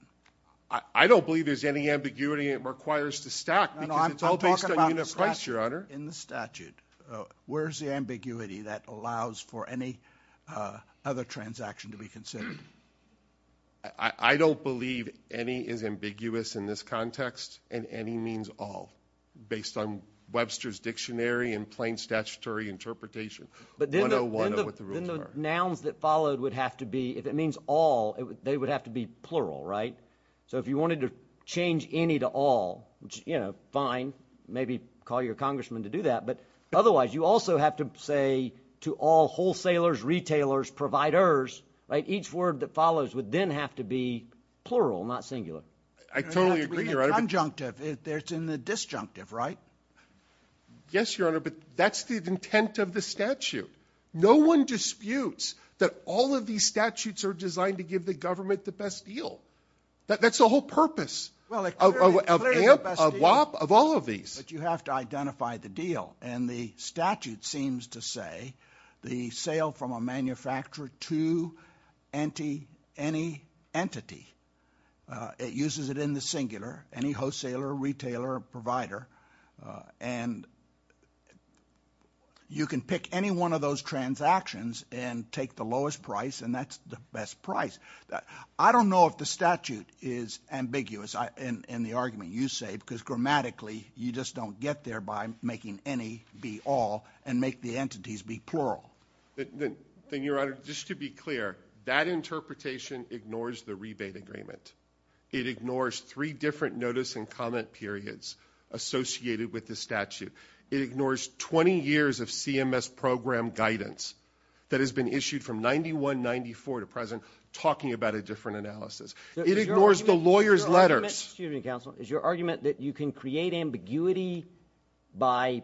I don't believe there's any ambiguity. It requires the stack because it's all based on a unit price, Your Honor. Where's the ambiguity that allows for any other transaction to be considered? I don't believe any is ambiguous in this context and any means all based on Webster's Dictionary and plain statutory interpretation. But then the nouns that followed would have to be... If it means all, they would have to be plural, right? So if you wanted to change any to all, fine. Maybe call your congressman to do that. But otherwise, you also have to say to all wholesalers, retailers, providers, each word that follows would then have to be plural, not singular. It's in the disjunctive, right? Yes, Your Honor, but that's the intent of the statute. No one disputes that all of these statutes are designed to give the government the best deal. That's the whole purpose of all of these. But you have to identify the deal and the sale from a manufacturer to any entity. It uses it in the singular. Any wholesaler, retailer, provider. You can pick any one of those transactions and take the lowest price and that's the best price. I don't know if the statute is ambiguous in the argument you say because grammatically you just don't get there by making any be all and make the entities be plural. Just to be clear, that interpretation ignores the rebate agreement. It ignores three different notice and comment periods associated with the statute. It ignores 20 years of CMS program guidance that has been issued from 91-94 to present talking about a different analysis. It ignores the lawyer's letters. Is your argument that you can create ambiguity by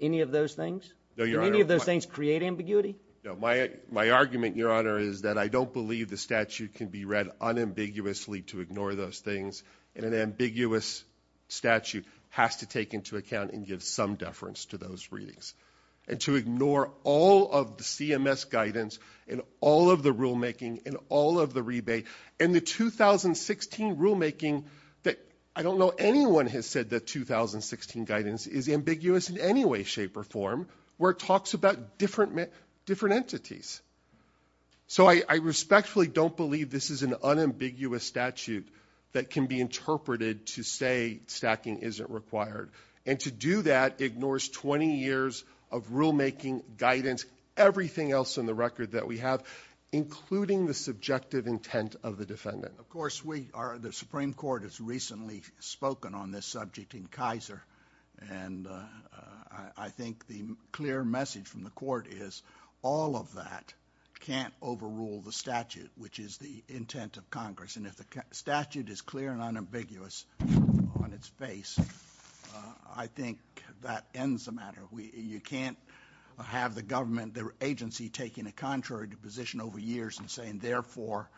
any of those things? Can any of those things create ambiguity? My argument, your honor, is that I don't believe the statute can be read unambiguously to ignore those things and an ambiguous statute has to take into account and give some deference to those readings. And to ignore all of the CMS guidance and all of the rulemaking and all of the rebate and the 2016 rulemaking that I don't know anyone has said that 2016 guidance is ambiguous in any way, shape, or form where it talks about different entities. So I respectfully don't believe this is an unambiguous statute that can be interpreted to say stacking isn't required. And to do that ignores 20 years of rulemaking, guidance, everything else in the record that we have including the subjective intent of the defendant. Of course the Supreme Court has recently spoken on this subject in Kaiser and I think the clear message from the court is all of that can't overrule the statute which is the intent of Congress. And if the statute is clear and unambiguous on its face I think that ends the matter. You can't have the government agency taking a contrary position over years and saying therefore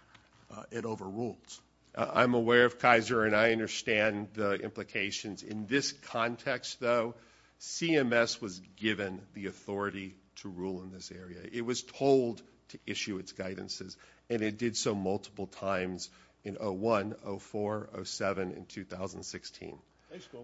it overrules. I'm aware of Kaiser and I understand the implications. In this context though CMS was given the authority to rule in this area. It was told to issue its guidances and it did so multiple times in 01, 04, 07, and 2016.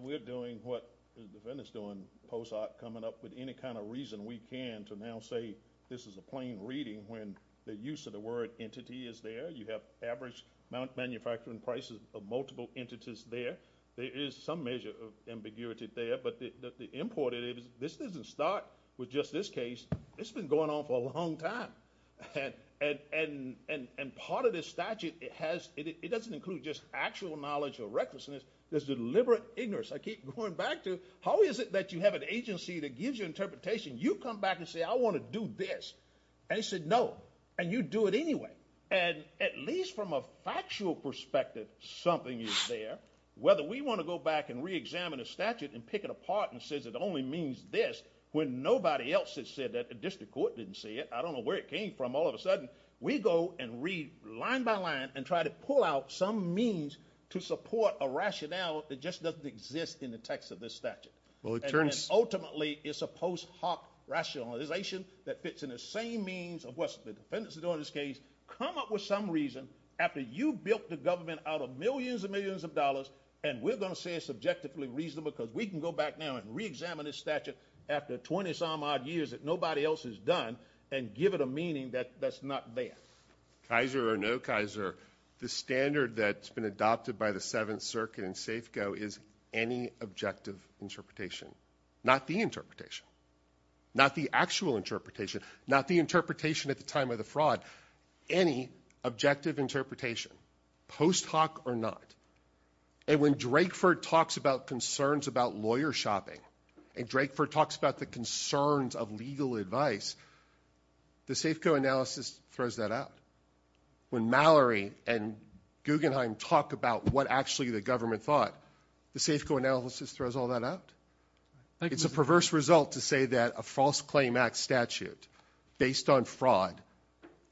We're doing what the defendant is doing post-op coming up with any kind of reason we can to now say this is a plain reading when the use of the word entity is there. You have average manufacturing prices of multiple entities there. There is some measure of ambiguity there but the import is this doesn't start with just this case. This has been going on for a long time. And part of this statute, it doesn't include just actual knowledge or recklessness. There's deliberate ignorance. I keep going back to how is it that you have an agency that gives you interpretation? You come back and say I want to do this. They said no. And you do it anyway. And at least from a factual perspective something is there whether we want to go back and re-examine a statute and pick it apart and say it only means this when nobody else has said that. The district court didn't say it. I don't know where it came from. All of a sudden we go and read line by line and try to pull out some means to support a rationale that just doesn't exist in the text of this statute. And ultimately it's a post hoc rationalization that fits in the same means of what the defendants are doing in this case. Come up with some reason after you built the government out of millions and millions of dollars and we're going to say it's subjectively reasonable because we can go back now and re-examine this statute after 20 some odd years that nobody else has done and give it a meaning that's not there. Kaiser or no Kaiser, the standard that's been adopted by the Seventh Circuit in Safeco is any objective interpretation. Not the interpretation. Not the actual interpretation. Not the interpretation at the time of the fraud. Any objective interpretation. Post hoc or not. And when Drakeford talks about concerns about lawyer shopping and Drakeford talks about the concerns of legal advice the Safeco analysis throws that out. When Mallory and Guggenheim talk about what actually the government thought the Safeco analysis throws all that out. It's a perverse result to say that a false claim act statute based on fraud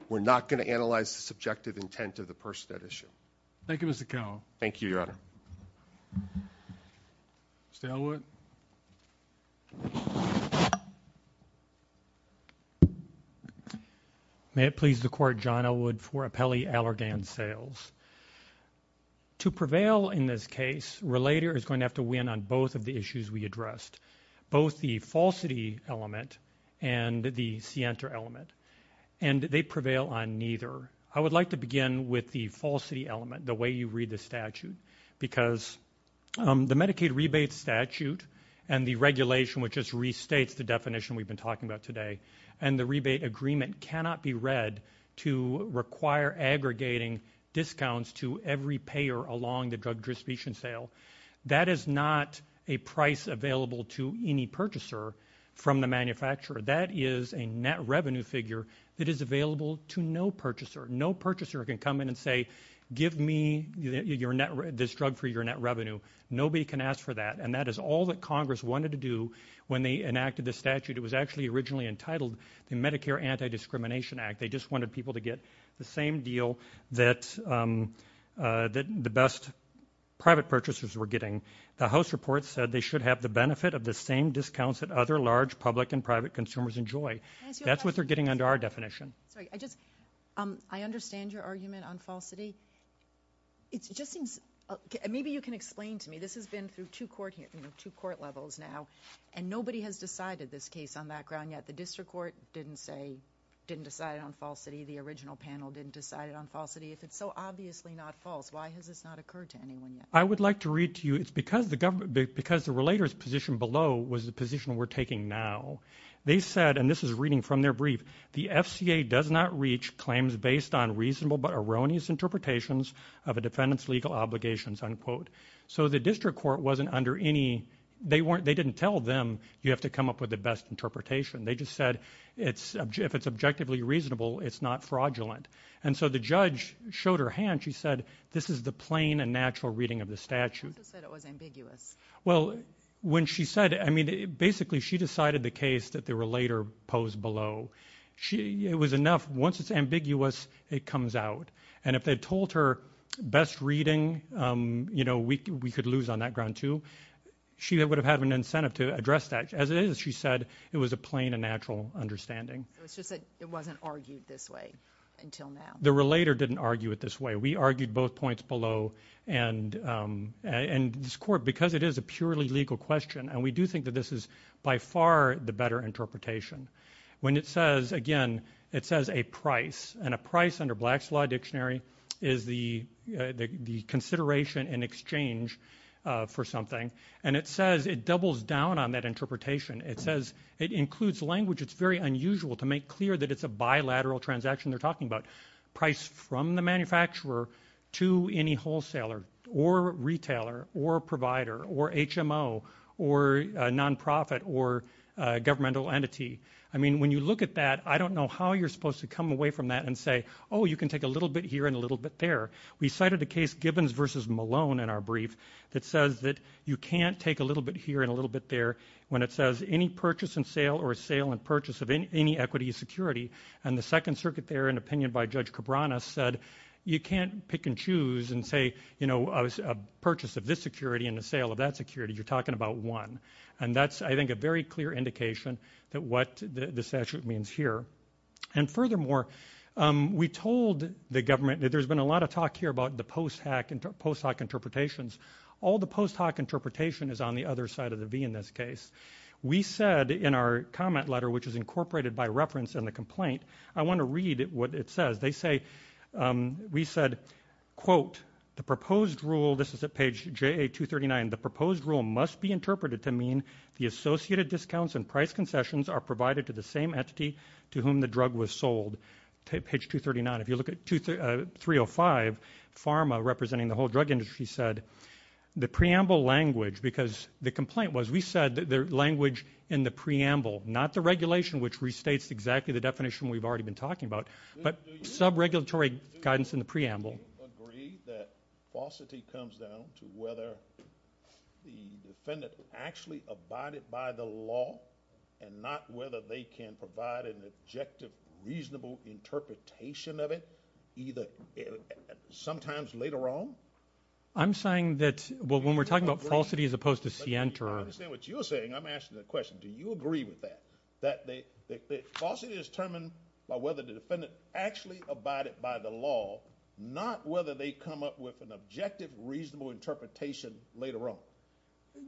we're not going to analyze the subjective intent of the person at issue. Thank you Mr. Cowell. Thank you Your Honor. Mr. Elwood. May it please the court, John Elwood for Apelli Allergan Sales. To prevail in this case, Relator is going to have to win on both of the issues we addressed. Both the falsity element and the scienter element. And they prevail on neither. I would like to begin with the falsity element, the way you read the statute. Because the Medicaid rebate statute and the regulation which restates the definition we've been talking about today and the rebate agreement cannot be read to require aggregating discounts to every payer along the drug distribution sale. That is not a price available to any purchaser from the manufacturer. That is a net revenue figure that is available to no purchaser. No purchaser can come in and say give me this drug for your net revenue. Nobody can ask for that. And that is all that Congress wanted to do when they enacted the statute. It was actually originally entitled the Medicare Anti-Discrimination Act. They just wanted people to get the same deal that the best private purchasers were getting. The House report said they should have the benefit of the same discounts that other large public and private consumers enjoy. That's what they're getting under our definition. I understand your argument on falsity. Maybe you can explain to me. This has been through two court levels now. And nobody has decided this case on that ground yet. The panel didn't decide on falsity. The original panel didn't decide on falsity. It's so obviously not false. Why has this not occurred to anyone yet? I would like to read to you. It's because the relator's position below was the position we're taking now. They said, and this is reading from their brief, the FCA does not reach claims based on reasonable but erroneous interpretations of a defendant's legal obligations, unquote. So the district court wasn't under any, they didn't tell them you have to come up with the best interpretation. They just said if it's objectively reasonable, it's not fraudulent. And so the judge showed her hand. She said, this is the plain and natural reading of the statute. Basically she decided the case that the relator posed below. It was enough. Once it's ambiguous, it comes out. And if they told her best reading, we could lose on that ground too, she would have had an incentive to address that. As it is, she said, it was a plain and natural understanding. It's just that it wasn't argued this way until now. The relator didn't argue it this way. We argued both points below and this court, because it is a purely legal question, and we do think that this is by far the better interpretation. When it says, again, it says a price. And a price under Black's Law Dictionary is the consideration in exchange for something. And it says it doubles down on that interpretation. It includes language that's very unusual to make clear that it's a bilateral transaction they're talking about. Price from the manufacturer to any wholesaler or retailer or provider or HMO or nonprofit or governmental entity. When you look at that, I don't know how you're supposed to come away from that and say, oh, you can take a little bit here and a little bit there. We cited the case Gibbons v. Malone in our case. You can't take a little bit here and a little bit there when it says any purchase and sale or a sale and purchase of any equity or security. And the Second Circuit there, in opinion by Judge Cabrana, said you can't pick and choose and say, you know, a purchase of this security and a sale of that security. You're talking about one. And that's, I think, a very clear indication that what the statute means here. And furthermore, we told the government that there's been a lot of talk here about the post-hoc interpretations. All the post-hoc interpretation is on the other side of the V in this case. We said in our comment letter, which is incorporated by reference in the complaint, I want to read what it says. They say we said, quote, the proposed rule, this is at page JA239, the proposed rule must be interpreted to mean the associated discounts and price concessions are provided to the same entity to whom the drug was sold. Page 239, if you look at 305 PHRMA, representing the whole drug industry, said the preamble language because the complaint was we said the language in the preamble, not the regulation, which restates exactly the definition we've already been talking about, but sub-regulatory guidance in the preamble. I agree that falsity comes down to whether the defendant actually abided by the law and not whether they can provide an objective, reasonable interpretation of it either sometimes later on. I'm saying that when we're talking about falsity as opposed to scienter. I don't understand what you're saying. I'm asking the question. Do you agree with that? That falsity is determined by whether the defendant actually abided by the law, not whether they come up with an objective, reasonable interpretation later on.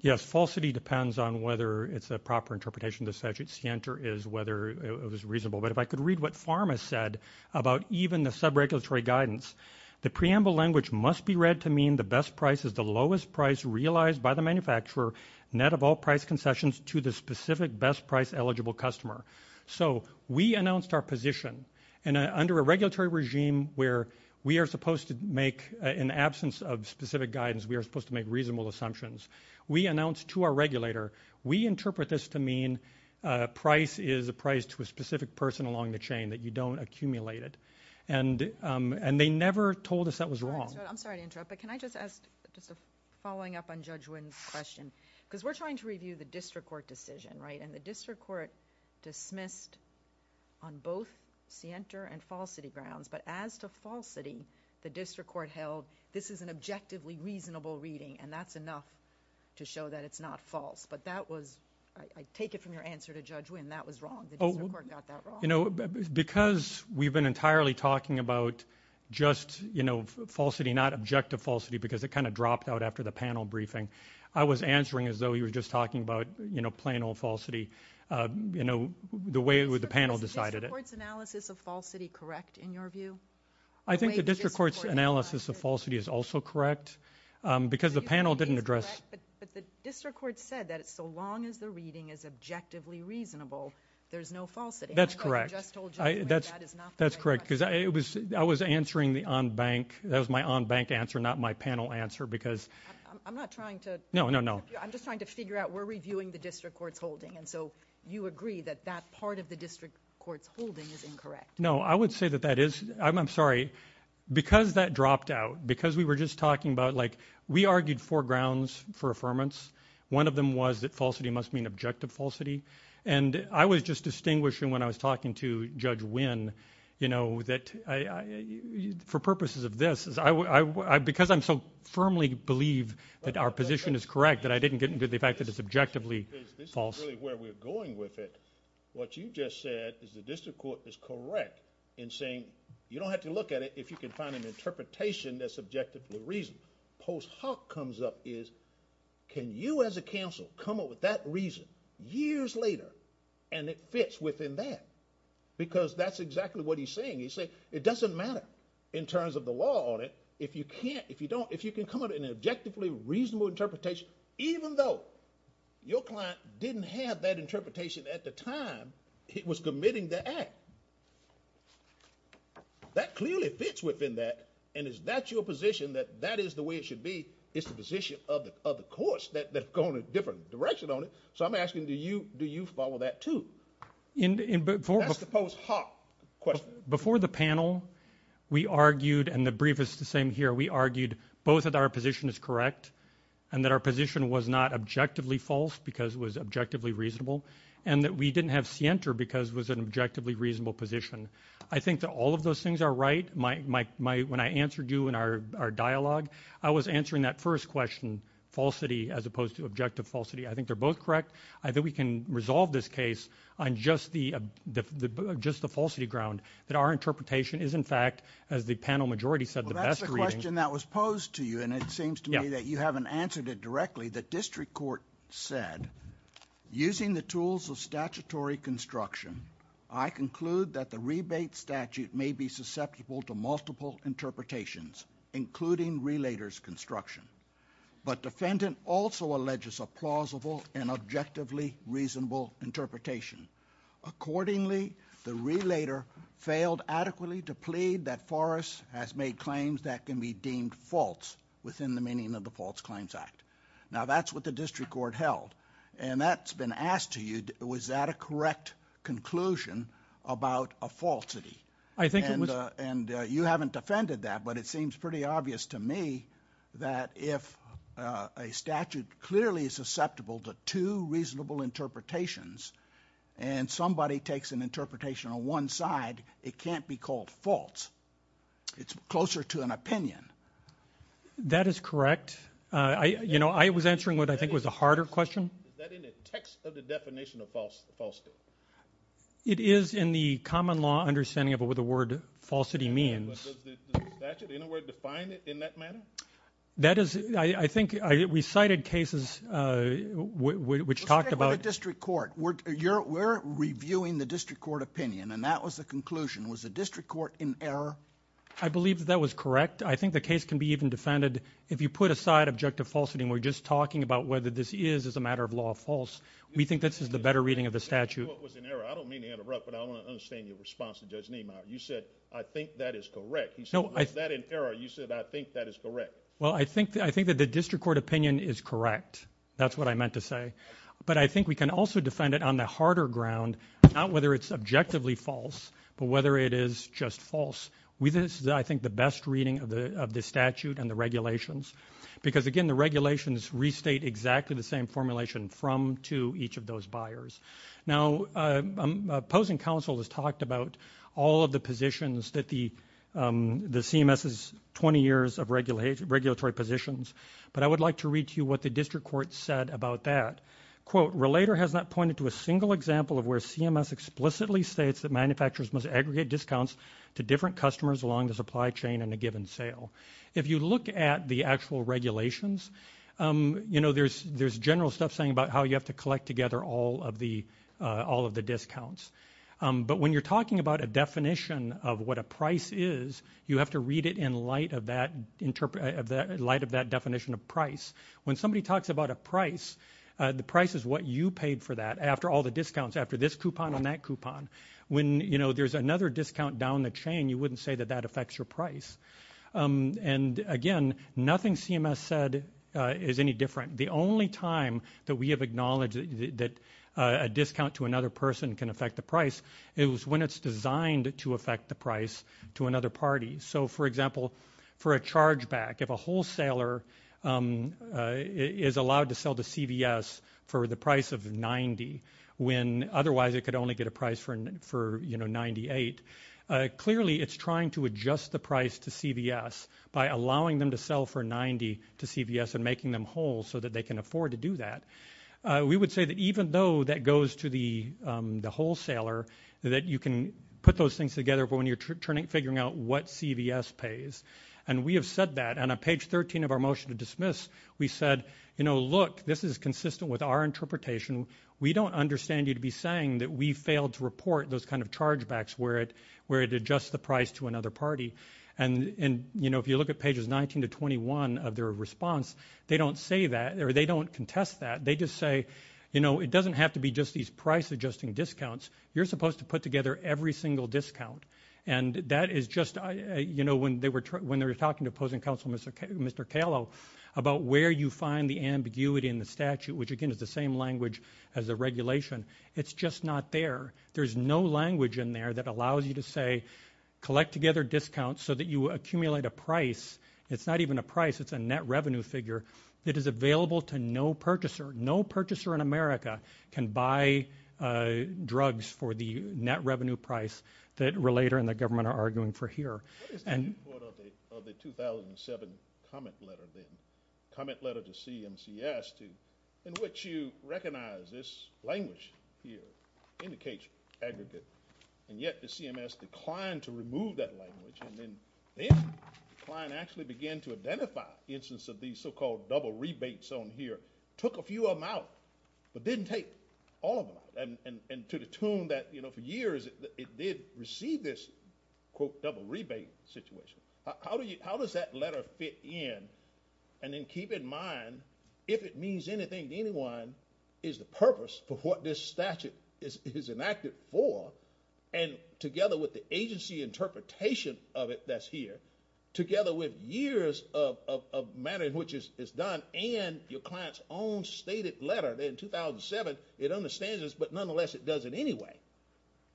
Yes, falsity depends on whether it's a proper interpretation of the statute. Scienter is whether it was reasonable. But if I could read what PHRMA said about even the sub-regulatory guidance, the preamble language must be read to mean the best price is the lowest price realized by the manufacturer, net of all price concessions to the specific best price eligible customer. So we announced our position, and under a regulatory regime where we are supposed to make, in the absence of specific guidance, we are supposed to make reasonable assumptions. We announced to our regulator, we interpret this to mean price is the lowest price to a specific person along the chain, that you don't accumulate it. And they never told us that was wrong. I'm sorry to interrupt, but can I just ask just a following up on Judge Wynn's question? Because we're trying to review the district court decision, right? And the district court dismissed on both the enter and falsity grounds, but as to falsity, the district court held this is an objectively reasonable reading, and that's enough to show that it's not false. But that was, I take it from your answer to Judge Wynn, that was wrong. Because we've been entirely talking about just falsity, not objective falsity, because it kind of dropped out after the panel briefing. I was answering as though you were just talking about plain old falsity. The way the panel decided it. Is the district court's analysis of falsity correct in your view? I think the district court's analysis of falsity is also correct, because the panel didn't address But the district court said that so long as the reading is objectively reasonable, there's no falsity. That's correct. That's correct, because I was answering the on-bank, that was my on-bank answer, not my panel answer, because... I'm not trying to... No, no, no. I'm just trying to figure out, we're reviewing the district court's holding, and so you agree that that part of the district court's holding is incorrect. No, I would say that that is I'm sorry, because that dropped out, because we were just talking about like, we argued four grounds for affirmance. One of them was that falsity must mean objective falsity, and I was just distinguishing when I was talking to Judge Wynn, you know, that for purposes of this, because I'm so firmly believed that our position is correct, that I didn't get into the fact that it's objectively false. This is really where we're going with it. What you just said is the district court is correct in saying, you don't have to look at it if you can find an interpretation that's objective for a reason. Post hoc comes up is, can you as a counsel come up with that reason years later, and it fits within that, because that's exactly what he's saying. He's saying, it doesn't matter in terms of the law audit, if you can't, if you don't, if you can come up with an objectively reasonable interpretation, even though your client didn't have that interpretation at the time he was committing the act. That clearly fits within that, and is that your position, that that is the way it should be? It's the position of the courts that go in a different direction on it. So I'm asking, do you follow that too? That's the post hoc question. Before the panel, we argued, and the brief is the same here, we argued both that our position is correct and that our position was not objectively false because it was objectively reasonable, and that we didn't have scienter because it was an objectively reasonable position. I think that all of those things are right. When I answered you in our dialogue, I was answering that first question, falsity as opposed to objective falsity. I think they're both correct. I think we can resolve this case on just the falsity ground, that our interpretation is in fact, as the panel majority said, the best reading. That's the question that was posed to you, and it seems to me that you haven't answered it directly. The district court said, using the tools of statutory construction, I conclude that the rebate statute may be susceptible to multiple interpretations, including relator's construction. But defendant also alleges a plausible and objectively reasonable interpretation. Accordingly, the relator failed adequately to plead that Forrest has made claims that can be deemed false within the meaning of the False Claims Act. Now that's what the district court held, and that's been asked to you, was that a correct conclusion about a falsity? You haven't defended that, but it seems pretty obvious to me that if a statute clearly is susceptible to two reasonable interpretations, and somebody takes an interpretation on one side, it can't be called false. It's closer to an opinion. That is correct. I was answering what I think was a harder question. Is that in the text of the definition of falsity? It is in the common law understanding of what the word falsity means. Was the statute anywhere defined in that manner? I think we cited cases which talked about What about the district court? We're reviewing the district court opinion, and that was the conclusion. Was the district court in error? I believe that was correct. I think the case can be even defended. If you put aside objective falsity, and we're just talking about whether this is, as a matter of law, false, we think this is the better reading of the statute. You said, I think that is correct. I think that the district court opinion is correct. That's what I meant to say. But I think we can also defend it on the harder ground, not whether it's objectively false, but whether it is just false. I think this is the best reading of the statute and the regulations. Because, again, the regulations restate exactly the same formulation from to each of those buyers. Opposing counsel has talked about all of the positions that the CMS has 20 years of regulatory positions, but I would like to read to you what the district court said about that. Relator has not pointed to a single example of where CMS explicitly states that manufacturers must aggregate discounts to different customers along the supply chain in a given sale. If you look at the actual regulations, there's general stuff saying about how you have to collect together all of the discounts. But when you're talking about a definition of what a price is, you have to read it in light of that definition of price. When somebody talks about a price, the price is what you paid for that after all the discounts, after this coupon and that coupon. When there's another discount down the chain, you wouldn't say that that affects your price. And, again, nothing CMS said is any different. The only time that we have acknowledged that a discount to another person can affect the price is when it's designed to affect the price to another party. So, for example, for a chargeback, if a wholesaler is allowed to sell to CVS for the price of 90 when otherwise it could only get a price for 98, clearly it's trying to adjust the price to CVS by allowing them to sell for 90 to CVS and making them whole so that they can afford to do that. We would say that even though that goes to the wholesaler, that you can put those things together when you're figuring out what CVS pays. And we have said that on page 13 of our motion to dismiss, we said, you know, look, this is consistent with our interpretation. We don't understand you to be saying that we can't hear it where it adjusts the price to another party. And, you know, if you look at pages 19 to 21 of their response, they don't say that or they don't contest that. They just say, you know, it doesn't have to be just these price-adjusting discounts. You're supposed to put together every single discount. And that is just, you know, when they were talking to opposing counsel, Mr. Kahlo, about where you find the ambiguity in the statute, which, again, is the same language as the regulation, it's just not there. There's no language in there that allows you to say collect together discounts so that you accumulate a price. It's not even a price, it's a net revenue figure that is available to no purchaser. No purchaser in America can buy drugs for the net revenue price that Relator and the government are arguing for here. The 2007 comment letter to CMCS in which you recognize this language here, indication, aggregate, and yet the CMS declined to remove that language and then actually began to identify the instance of these so-called double rebates on here. Took a few of them out, but didn't take all of them. And to the tune that, you know, for years it did receive this quote double rebate situation. How does that letter fit in? And then keep in mind, if it means anything to you, is the purpose of what this statute is enacted for and together with the agency interpretation of it that's here, together with years of matter in which it's done and your client's own stated letter in 2007, it understands this, but nonetheless it does it anyway.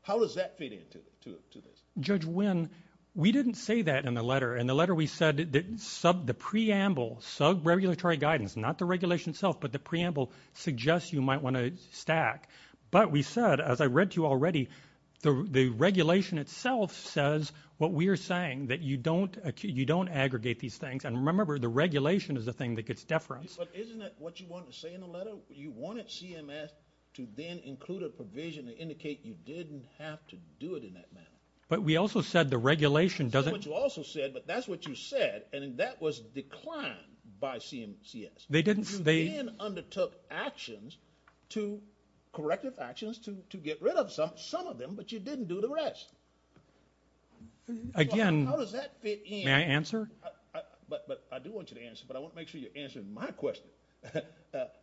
How does that fit into this? Judge Wynn, we didn't say that in the letter. In the letter we said that the preamble, sub-regulatory guidance, not the regulation itself, but the preamble suggests you might want to stack. But we said, as I read to you already, the regulation itself says what we are saying, that you don't aggregate these things. And remember, the regulation is the thing that gets deference. But isn't that what you wanted to say in the letter? You wanted CMS to then include a provision to indicate you didn't have to do it in that manner. But we also said the regulation doesn't... That's what you also said, but that's what you said, and that was declined by CMS. They undertook actions, corrective actions, to get rid of some of them, but you didn't do the rest. How does that fit in? May I answer? I do want you to answer, but I want to make sure you're answering my question.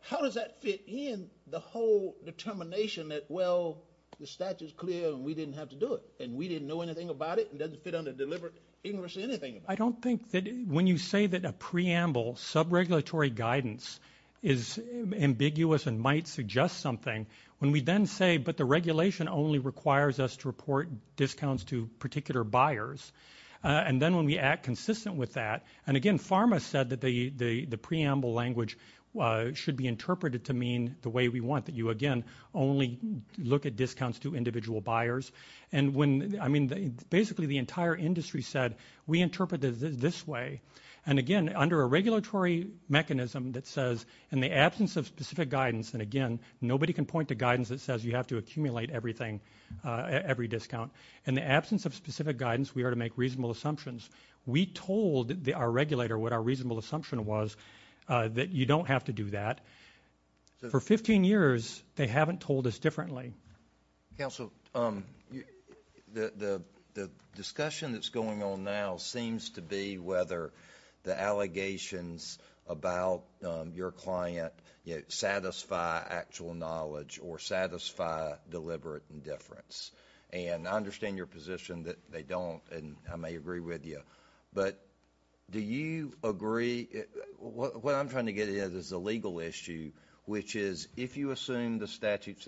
How does that fit in the whole determination that, well, the statute's clear and we didn't have to do it, and we didn't know anything about it, and it doesn't fit under deliberate English or anything? I don't think that... When you say that a preamble sub-regulatory guidance is ambiguous and might suggest something, when we then say, but the regulation only requires us to report discounts to particular buyers, and then when we act consistent with that... And again, PhRMA said that the preamble language should be interpreted to mean the way we want, but you again only look at discounts to individual buyers. And when... I mean, basically the entire industry said, we interpret it this way. And again, under a regulatory mechanism that says, in the absence of specific guidance, and again, nobody can point to guidance that says you have to accumulate everything, every discount. In the absence of specific guidance, we are to make reasonable assumptions. We told our regulator what our reasonable assumption was that you don't have to do that. For 15 years, they haven't told us differently. Council, the discussion that's going on now seems to be whether the allegations about your client satisfy actual knowledge or satisfy deliberate indifference. And I understand your position that they don't, and I may agree with you, but do you agree... What I'm trying to get at is the legal issue, which is, if you assume the statute's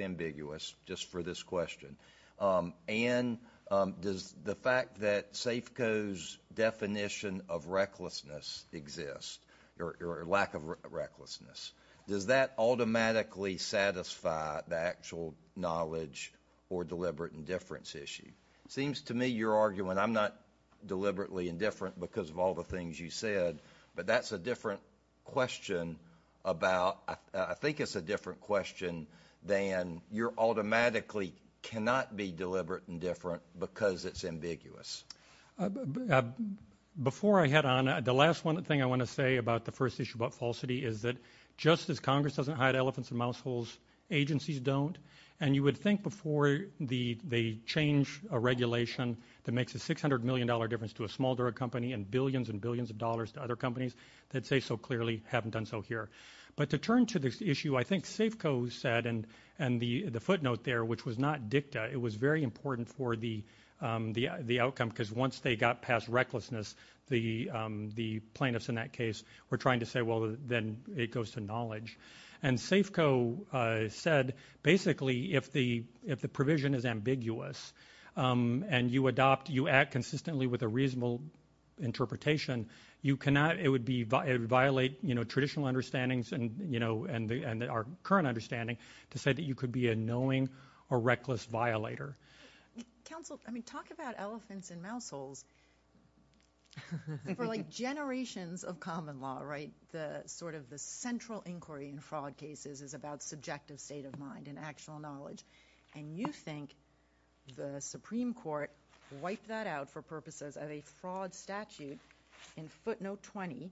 question, and the fact that Safeco's definition of recklessness exists, or lack of recklessness, does that automatically satisfy the actual knowledge or deliberate indifference issue? It seems to me you're arguing, I'm not deliberately indifferent because of all the things you said, but that's a different question about... I think it's a different question than you're automatically cannot be deliberate indifferent because it's ambiguous. Before I head on, the last thing I want to say about the first issue about falsity is that just as Congress doesn't hide elephants in mouse holes, agencies don't. And you would think before they change a regulation that makes a $600 million difference to a small drug company and billions and billions of dollars to other companies, that they so clearly haven't done so here. But to turn to this issue, I think Safeco said, and the footnote there, which was not dicta, it was very important for the outcome because once they got past recklessness, the plaintiffs in that case were trying to say, well, then it goes to knowledge. And Safeco said, basically, if the provision is ambiguous, and you act consistently with a reasonable interpretation, it would violate traditional understandings and our current understanding to say that you could be a knowing or reckless violator. Talk about elephants in mouse holes for generations of common law. The central inquiry in fraud cases is about subjective state of mind and actual knowledge. And you think the Supreme Court wiped that out for purposes of a fraud statute in footnote 20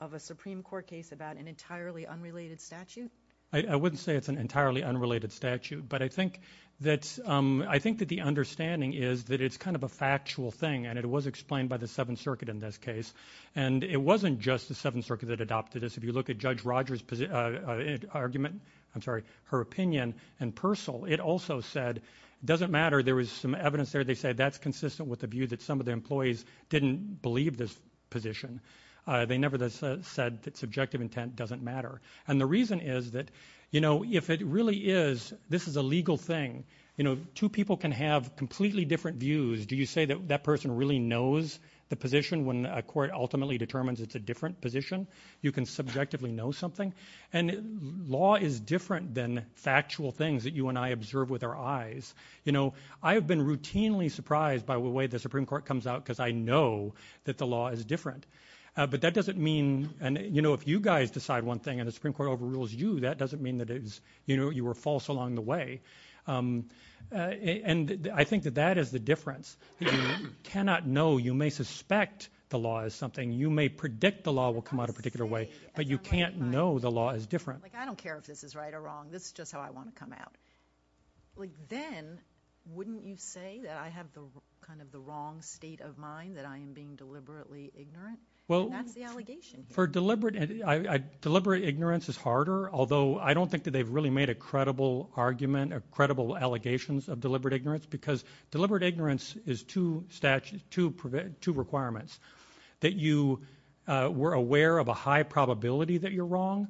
of a Supreme Court case about an entirely unrelated statute? I wouldn't say it's an entirely unrelated statute, but I think that the understanding is that it's kind of a factual thing, and it was explained by the Seventh Circuit in this case. And it wasn't just the Seventh Circuit that adopted this. If you look at Judge Rogers' argument, I'm sorry, her opinion in Persil, it also said, it doesn't matter, there was some evidence there that said that's consistent with the view that some of the employees didn't believe this position. They never said that subjective intent doesn't matter. And the reason is that if it really is this is a legal thing, two people can have completely different views. Do you say that that person really knows the position when a court ultimately determines it's a different position? You can subjectively know something. And law is different than factual things that you and I observe with our eyes. I've been routinely surprised by the way the law is different. But that doesn't mean, you know, if you guys decide one thing and the Supreme Court overrules you, that doesn't mean that you were false along the way. And I think that that is the difference. You cannot know, you may suspect the law is something, you may predict the law will come out a particular way, but you can't know the law is different. I don't care if this is right or wrong, this is just how I want to come out. Then, wouldn't you say that I have kind of the wrong state of mind, that I am being deliberately ignorant? Deliberate ignorance is harder, although I don't think that they've really made a credible argument or credible allegations of deliberate ignorance, because deliberate ignorance is two requirements. That you were aware of a high probability that you're wrong,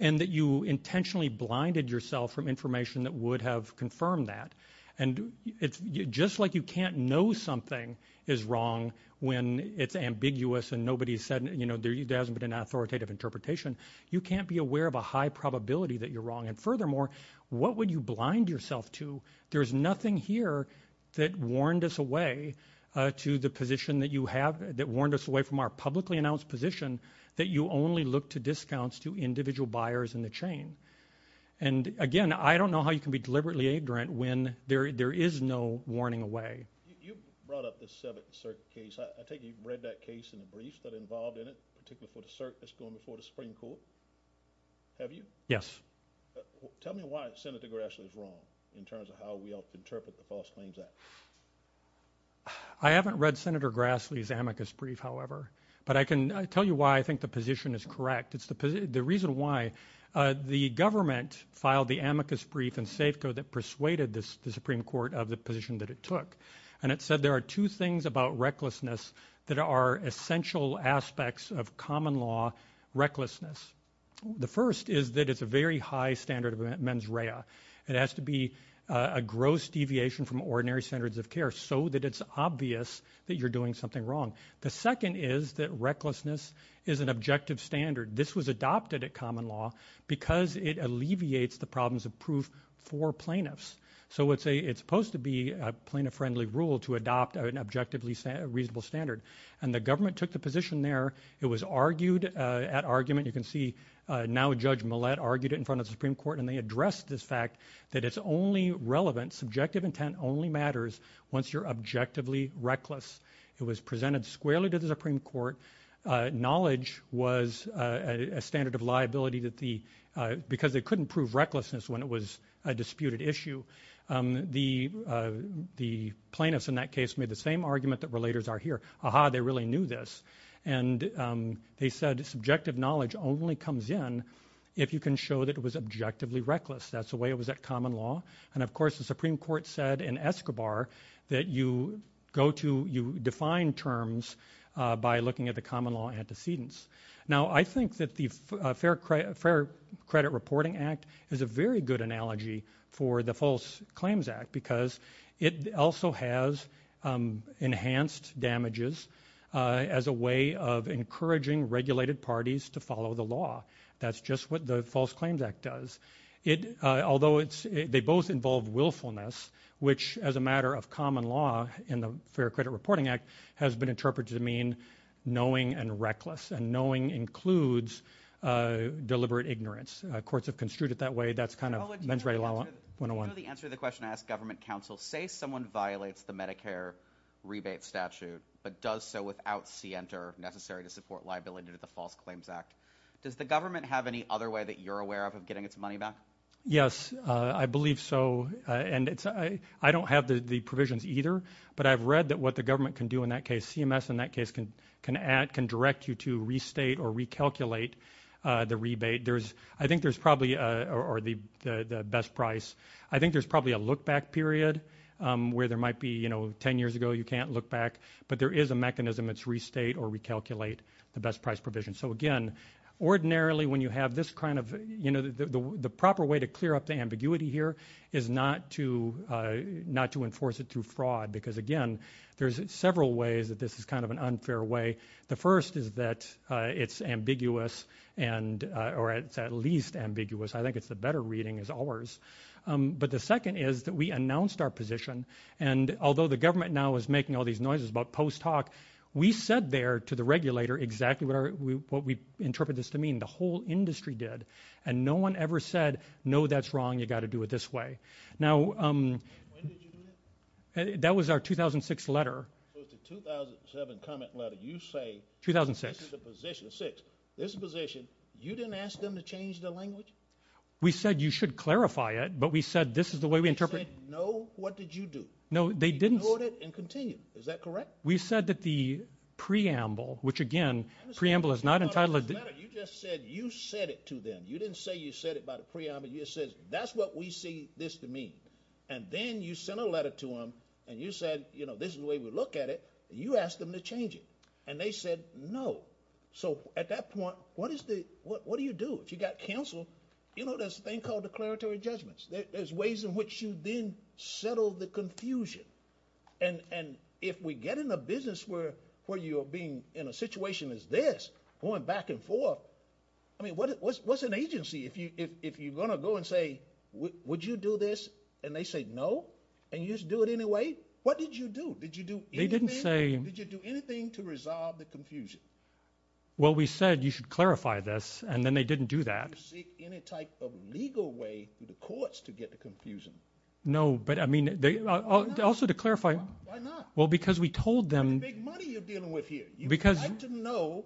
and that you intentionally blinded yourself from information that would have confirmed that. And just like you can't know something is wrong when it's ambiguous and nobody said, you know, there hasn't been an authoritative interpretation, you can't be aware of a high probability that you're wrong. And furthermore, what would you blind yourself to? There's nothing here that warned us away to the position that you have, that warned us away from our publicly announced position, that you only look to discounts to individual buyers in the chain. And again, I don't know how you can be deliberately ignorant when there is no warning away. You brought up the Seventh Circuit case. I think you've read that case in the brief that involved in it, particularly for the circuit that's going before the Supreme Court. Have you? Yes. Tell me why Senator Grassley is wrong, in terms of how we interpret the False Claims Act. I haven't read Senator Grassley's amicus brief, however. But I can tell you why I think the position is correct. It's the reason why the government filed the amicus brief in Safeco that persuaded the Supreme Court of the position that it took. And it said there are two things about recklessness that are essential aspects of common law recklessness. The first is that it's a very high standard of mens rea. It has to be a gross deviation from ordinary standards of care, so that it's obvious that you're doing something wrong. The second is that recklessness is an objective standard. This was adopted at common law because it alleviates the problems of proof for plaintiffs. So it's supposed to be a plaintiff-friendly rule to adopt an objectively reasonable standard. And the government took the position there. It was argued at argument. You can see now Judge Millett argued it in front of the Supreme Court, and they addressed this fact that it's only relevant, subjective intent only matters once you're objectively reckless. It was presented squarely to the Supreme Court. Knowledge was a standard of liability because they couldn't prove recklessness when it was a disputed issue. The plaintiffs in that case made the same argument that relators are here. Aha, they really knew this. And they said subjective knowledge only comes in if you can show that it was objectively reckless. That's the way it was at common law. And of course the Supreme Court said in Escobar that you define terms by looking at the common law antecedents. Now I think that the Fair Credit Reporting Act is a very good analogy for the False Claims Act because it also has enhanced damages as a way of encouraging regulated parties to follow the law. That's just what the False Claims Act does. Although they both mean knowing and reckless. And knowing includes deliberate ignorance. Courts have construed it that way. You know the answer to the question I asked government counsel. Say someone violates the Medicare rebate statute, but does so without CNTR necessary to support liability to the False Claims Act. Does the government have any other way that you're aware of of getting its money back? Yes, I believe so. I don't have the provisions either, but I've read that what the government can do in that case, CMS in that case, can add, can direct you to restate or recalculate the rebate. I think there's probably, or the best price, I think there's probably a look back period where there might be, you know, 10 years ago you can't look back, but there is a mechanism. It's restate or recalculate the best price provision. So again, ordinarily when you have this kind of, you know, the proper way to clear up the ambiguity here is not to do it this way. There's several ways that this is kind of an unfair way. The first is that it's ambiguous, or at least ambiguous. I think it's a better reading as ours. But the second is that we announced our position, and although the government now is making all these noises about post-talk, we said there to the regulator exactly what we interpret this to mean. The whole industry did. And no one ever said no, that's wrong, you've got to do it this way. Now, that was our 2006 letter. 2006. We said you should clarify it, but we said this is the way we interpret it. No, they didn't. We said that the preamble, which again, preamble is not entitled. You just said you said it to them. You didn't say you said it by the preamble. You said that's what we see this to mean. And then you sent a letter to them, and you said this is the way we look at it, and you asked them to change it. And they said no. So at that point, what do you do? If you got canceled, you know, there's a thing called declaratory judgments. There's ways in which you then settle the confusion. And if we get in a business where you're being in a situation as this, going back and forth, I mean, what's an agency if you're going to go and say, would you do this? And they say no, and you just do it anyway? What did you do? Did you do anything? Did you do anything to resolve the confusion? Well, we said you should clarify this, and then they didn't do that. Did you seek any type of legal way through the courts to get the confusion? No, but I mean, also to clarify. Why not? Well, because we told them... You'd like to know,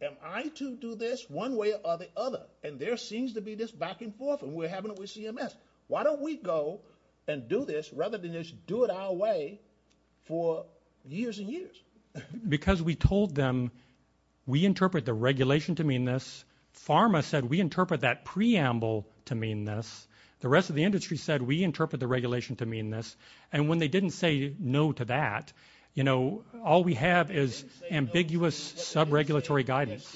am I to do this one way or the other? And there seems to be this back and forth, and we're having it with CMS. Why don't we go and do this rather than just do it our way for years and years? Because we told them we interpret the regulation to mean this. Pharma said we interpret that preamble to mean this. The rest of the industry said we interpret the regulation to mean this. And when they didn't say no to that, all we have is ambiguous sub-regulatory guidance.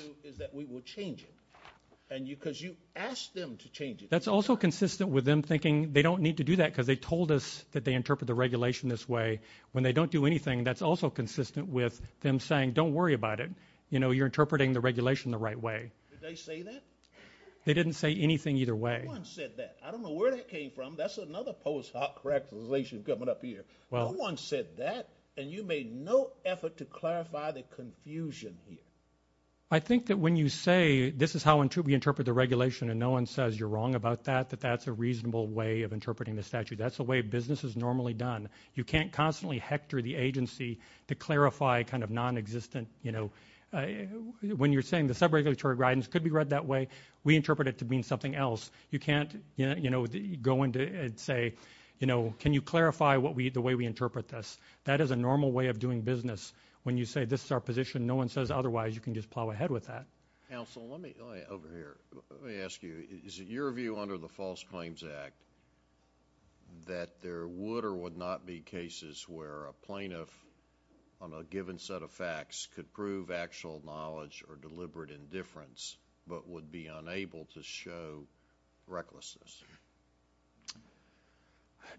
Because you asked them to change it. That's also consistent with them thinking they don't need to do that because they told us that they interpret the regulation this way. When they don't do anything, that's also consistent with them saying, don't worry about it. You're interpreting the regulation the right way. They didn't say anything either way. No one said that. I don't know where that came from. That's another post-hoc regulation coming up here. No one said that, and you made no effort to clarify the confusion here. I think that when you say this is how we interpret the regulation and no one says you're wrong about that, that that's a reasonable way of interpreting the statute. That's the way business is normally done. You can't constantly hector the agency to clarify kind of non-existent... When you're saying the sub-regulatory guidance could be read that way, we interpret it to mean something else. You can't go into and say, can you clarify the way we interpret this? That is a normal way of doing business. When you say this is our position and no one says otherwise, you can just plow ahead with that. Is it your view under the False Claims Act that there would or would not be cases where a plaintiff on a given set of facts could prove actual knowledge or deliberate indifference but would be unable to show recklessness?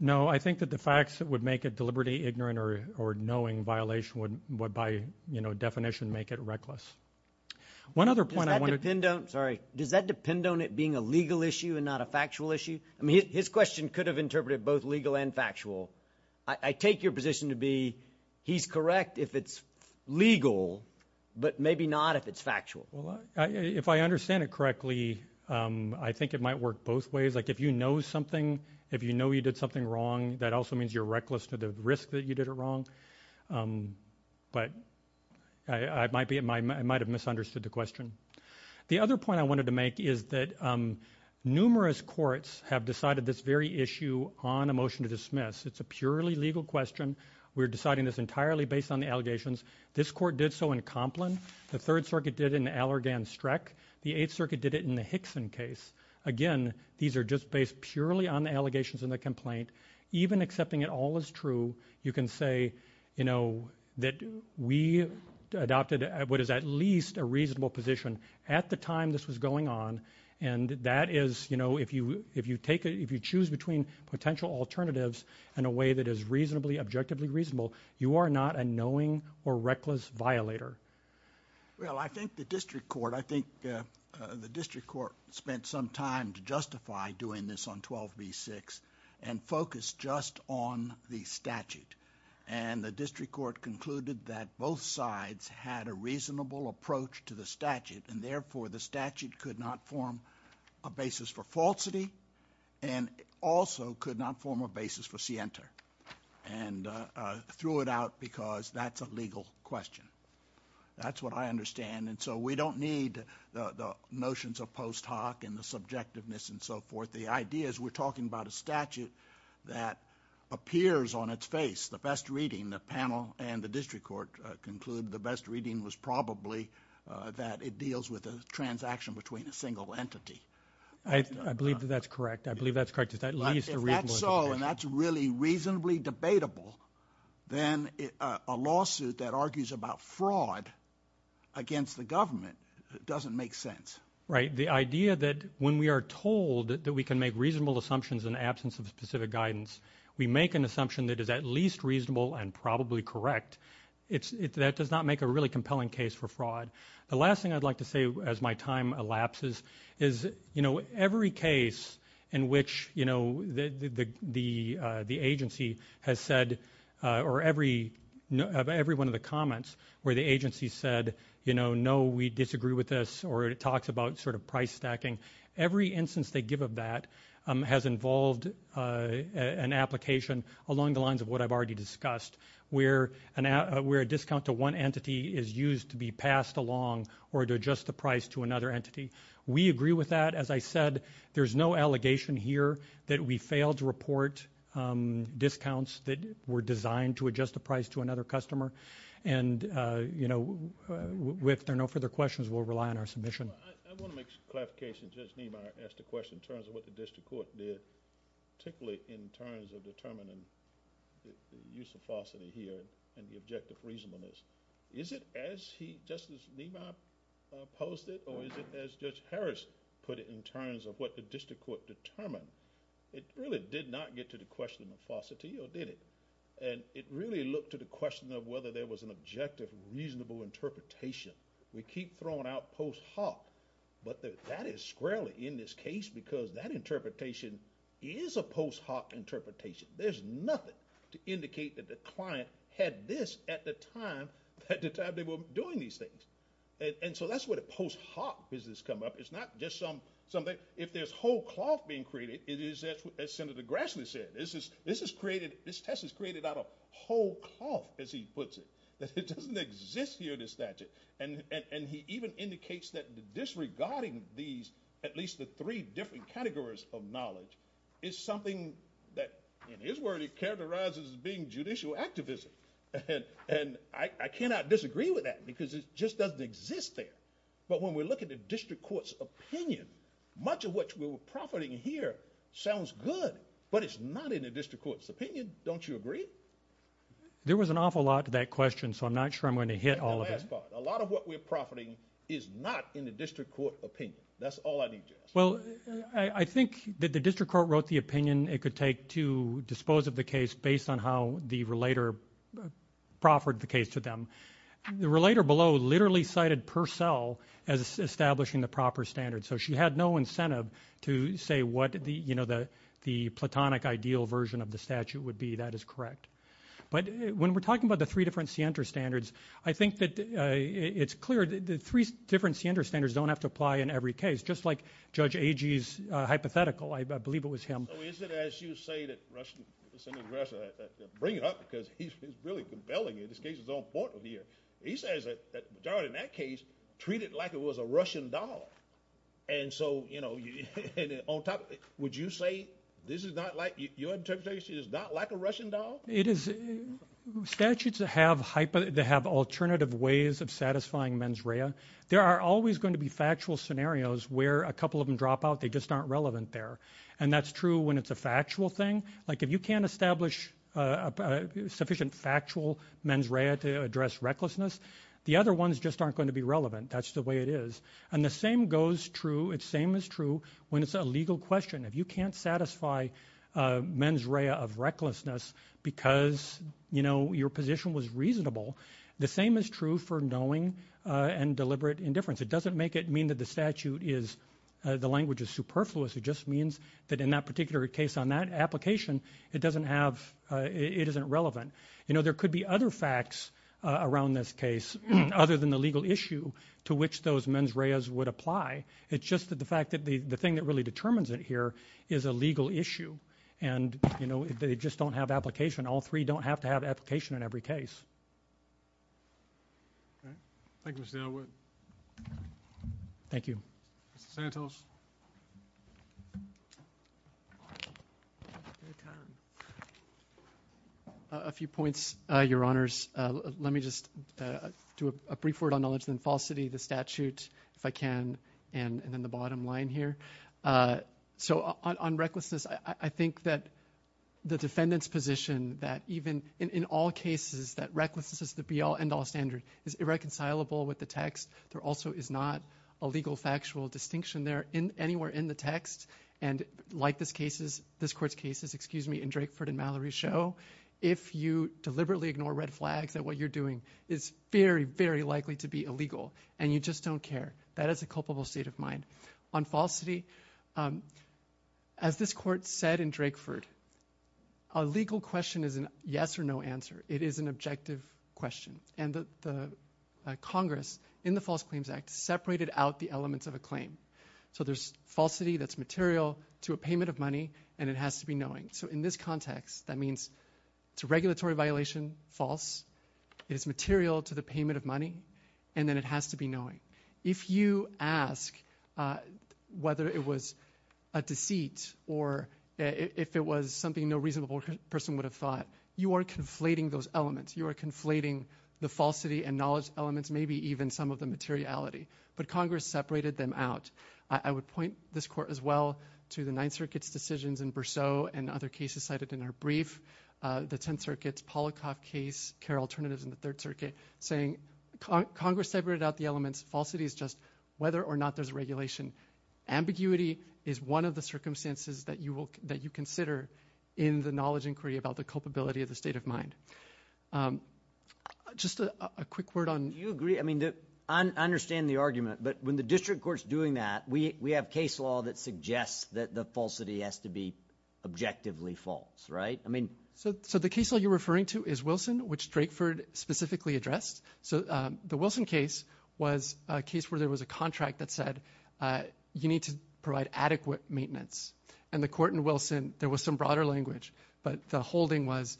No, I think that the facts that would make it deliberately ignorant or knowing violation would by definition make it reckless. Does that depend on it being a legal issue and not a factual issue? His question could have interpreted both legal and factual. I take your position to be he's correct if it's legal but maybe not if it's factual. If I understand it correctly, I think it might work both ways. If you know something, if you know you did something wrong, that also means you're reckless to the risk that you did it wrong. I might have misunderstood the question. The other point I wanted to make is that numerous courts have decided this very issue on a motion to dismiss. It's a purely legal question. We're deciding this entirely based on the allegations. This court did so in Complin. The Third Circuit did it in Allergan-Streck. The Eighth Circuit did it in the Hickson case. Again, these are just based purely on the allegations in the complaint. Even accepting it all as true, you can say that we adopted what is at least a reasonable position at the time this was going on and that is if you choose between potential alternatives in a way that is reasonably and objectively reasonable, you are not a knowing or reckless violator. Well, I think the district court spent some time to justify doing this on 12b-6 and focused just on the statute. The district court concluded that both sides had a reasonable approach to the statute and therefore the statute could not form a basis for falsity and also could not form a basis for scienter and threw it out because that's a legal question. That's what I understand and so we don't need the notions of post hoc and the subjectiveness and so forth. The idea is we're talking about a statute that appears on its face. The best reading, the panel and the district court concluded the best reading was probably that it deals with a transaction between a single entity. I believe that that's correct. If that's so and that's really reasonably debatable then a lawsuit that argues about fraud against the government doesn't make sense. The idea that when we are told that we can make reasonable assumptions in the absence of specific guidance, we make an assumption that is at least reasonable and probably correct. That does not make a really compelling case for fraud. The last thing I'd like to say as my time elapses is every case in which the agency has said or every one of the comments where the agency said no, we disagree with this or it talks about price stacking, every instance they give of that has involved an application along the lines of what I've already discussed where a discount to one entity is used to be passed along or to adjust the price to another entity. We agree with that. As I said, there's no allegation here that we failed to report discounts that were designed to adjust the price to another customer. If there are no further questions, we'll rely on our submission. I want to make a clarification. Justice Niemeyer asked a question in terms of what the district court did particularly in terms of determining the use of falsity here and the objective reason for this. Is it as he posted or is it as Judge Harrison put it in terms of what the district court determined? It really did not get to the question of falsity or did it? It really looked to the question of whether there was an objective reasonable interpretation. We keep throwing out post hoc, but that is squarely in this case because that interpretation is a post hoc interpretation. There's nothing to indicate that the client had this at the time that they were doing these things. That's where the post hoc business comes up. It's not just something. If there's whole cloth being created, it is as Senator Grassley said. This test is created out of whole cloth as he puts it. It doesn't exist here in the statute. He even indicates that disregarding these at least the three different categories of knowledge is something that in his word he characterizes as being judicial activism. I cannot disagree with that because it just doesn't exist there. When we look at the district court's opinion, much of what we're profiting here sounds good, but it's not in the district court's opinion. Don't you agree? There was an awful lot to that question, so I'm not sure I'm going to hit all of it. A lot of what we're profiting is not in the district court opinion. That's all I need to ask. I think that the district court wrote the opinion it could take to dispose of the case based on how the relator proffered the case to them. The relator below literally cited Purcell as establishing the proper standards. She had no incentive to say what the platonic ideal version of the statute would be. That is correct. When we're talking about the three different standards, I think that it's clear that the three different standards don't have to apply in every case. Just like Judge Agee's hypothetical. I believe it was him. As you say, he's really compelling. In that case, treat it like it was a Russian doll. Would you say this is not like a Russian doll? Statutes have alternative ways of satisfying mens rea. There are always going to be factual scenarios where a couple of them drop out. They just aren't relevant there. That's true when it's a factual thing. If you can't establish sufficient factual mens rea to address recklessness, the other ones just aren't going to be relevant. That's the way it is. The same is true when it's a legal question. If you can't satisfy mens rea of recklessness because your position was reasonable, the same is true for knowing and deliberate indifference. It doesn't make it mean that the language is superfluous. It just means that in that particular case on that application, it isn't relevant. There could be other facts around this case other than the legal issue to which those mens reas would apply. It's just the fact that the thing that really determines it here is a legal issue. If they just don't have application, all three don't have to have application in every case. Thank you, Mr. Elwood. Thank you. A few points, Your Honors. Let me just do a brief word on knowledge and falsity, the statutes if I can, and then the bottom line here. On recklessness, I think that the defendant's position in the text, there also is not a legal factual distinction there anywhere in the text. Like this court's cases in Drakeford and Mallory show, if you deliberately ignore red flags at what you're doing, it's very, very likely to be illegal. You just don't care. That is a culpable state of mind. On falsity, as this court said in Drakeford, a legal question is a yes or no answer. It is an objective question. And the Congress in the False Claims Act separated out the elements of a claim. So there's falsity that's material to a payment of money, and it has to be knowing. So in this context, that means it's a regulatory violation, false. It's material to the payment of money, and then it has to be knowing. If you ask whether it was a deceit or if it was something no reasonable person would have thought, you are conflating those elements. You are conflating the falsity and knowledge elements, maybe even some of the materiality. But Congress separated them out. I would point this court, as well, to the Ninth Circuit's decisions in Berceau and other cases cited in our brief, the Tenth Circuit's Polycock case, care alternatives in the Third Circuit, saying Congress separated out the elements. Falsity is just whether or not there's regulation. Ambiguity is one of the circumstances that you consider in the knowledge inquiry about the culpability of the state of mind. Just a quick word on... I understand the argument, but when the district court's doing that, we have case law that suggests that the falsity has to be objectively false, right? So the case you're referring to is Wilson, which Stratford specifically addressed. The Wilson case was a case where there was a contract that said you need to provide adequate maintenance. In the court in Wilson, there was some broader language, but the holding was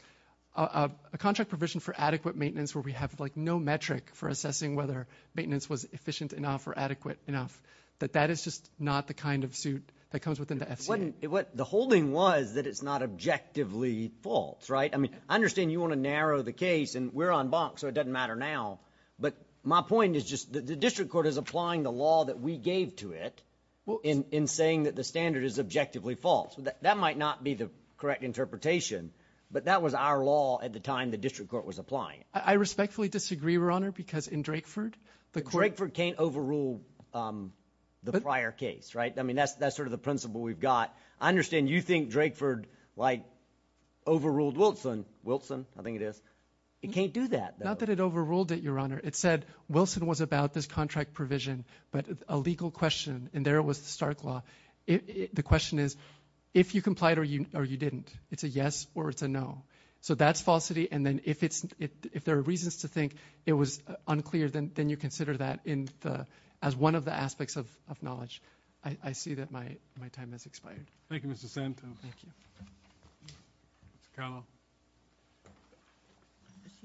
a contract provision for adequate maintenance where we have, like, no metric for assessing whether maintenance was efficient enough or adequate enough. But that is just not the kind of suit that comes within the FCA. The holding was that it's not objectively false, right? I understand you want to narrow the case, and we're on box, so it doesn't matter now. But my point is just that the district court is applying the law that we gave to it in saying that the standard is objectively false. That might not be the correct interpretation, but that was our law at the time the district court was applying it. I respectfully disagree, Your Honor, because in Drakeford... Drakeford can't overrule the prior case, right? I mean, that's sort of the principle we've got. I understand you think Drakeford, like, overruled Wilson. Wilson, I think it is. It can't do that. Not that it overruled it, Your Honor. It said Wilson was about this contract provision, but a legal question, and there was the Stark law. The question is, if you complied or you didn't. It's a yes or it's a no. So that's falsity, and then if there are reasons to think it was unclear, then you consider that as one of the aspects of knowledge. I see that my time has expired. Thank you, Mr. Sampson. Do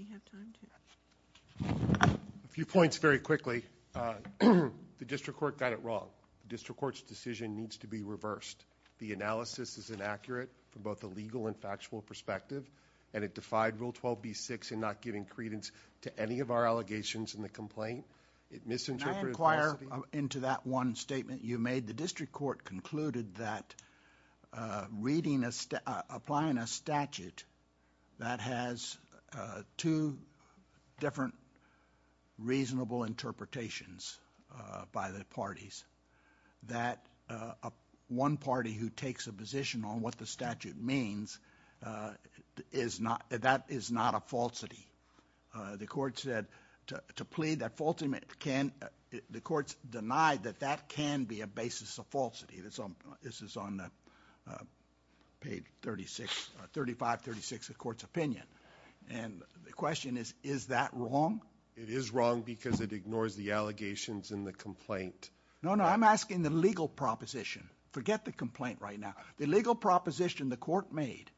you have time to... A few points very quickly. The district court got it wrong. The district court's decision needs to be reversed. The analysis is inaccurate from both a legal and factual perspective, and it defied Rule 12b-6 in not giving credence to any of our allegations in the complaint. It misinterpreted... I inquire into that one statement you made. The district court concluded that reading a... applying a statute that has two different reasonable interpretations by the parties, that one party who takes a position on what the statute means is not... that is not a falsity. The court said to plead that... the court denied that that can be a basis of falsity. This is on the page 35-36 of the court's opinion, and the question is, is that wrong? It is wrong because it ignores the allegations in the complaint. No, no, I'm asking the legal proposition. Forget the complaint right now. The legal proposition the court made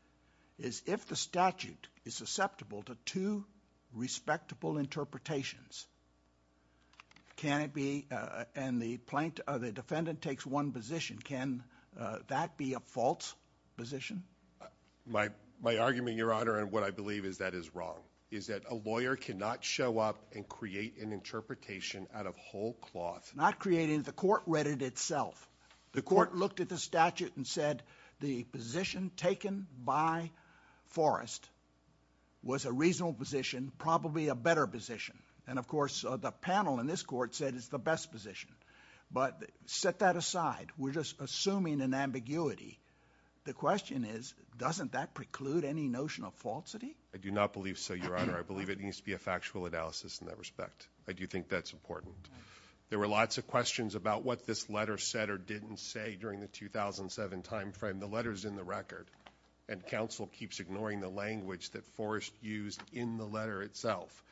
is if the statute is susceptible to two respectable interpretations, can it be... and the plaint... the defendant takes one position, can that be a false position? My argument, Your Honor, and what I believe is that is wrong is that a lawyer cannot show up and create an interpretation out of whole cloth. Not creating, the court read it itself. The court looked at the statute and said the position taken by Forrest was a reasonable position, probably a better position, and of course the panel in this court said it's the best position, but set that aside. We're just assuming an ambiguity. The question is, doesn't that preclude any notion of falsity? I do not believe so, Your Honor. I believe it needs to be a factual analysis in that respect. I do think that's important. There were lots of questions about what this letter said or didn't say during the 2007 time frame. The letter's in the record, and counsel keeps ignoring the language that Forrest used in the letter itself.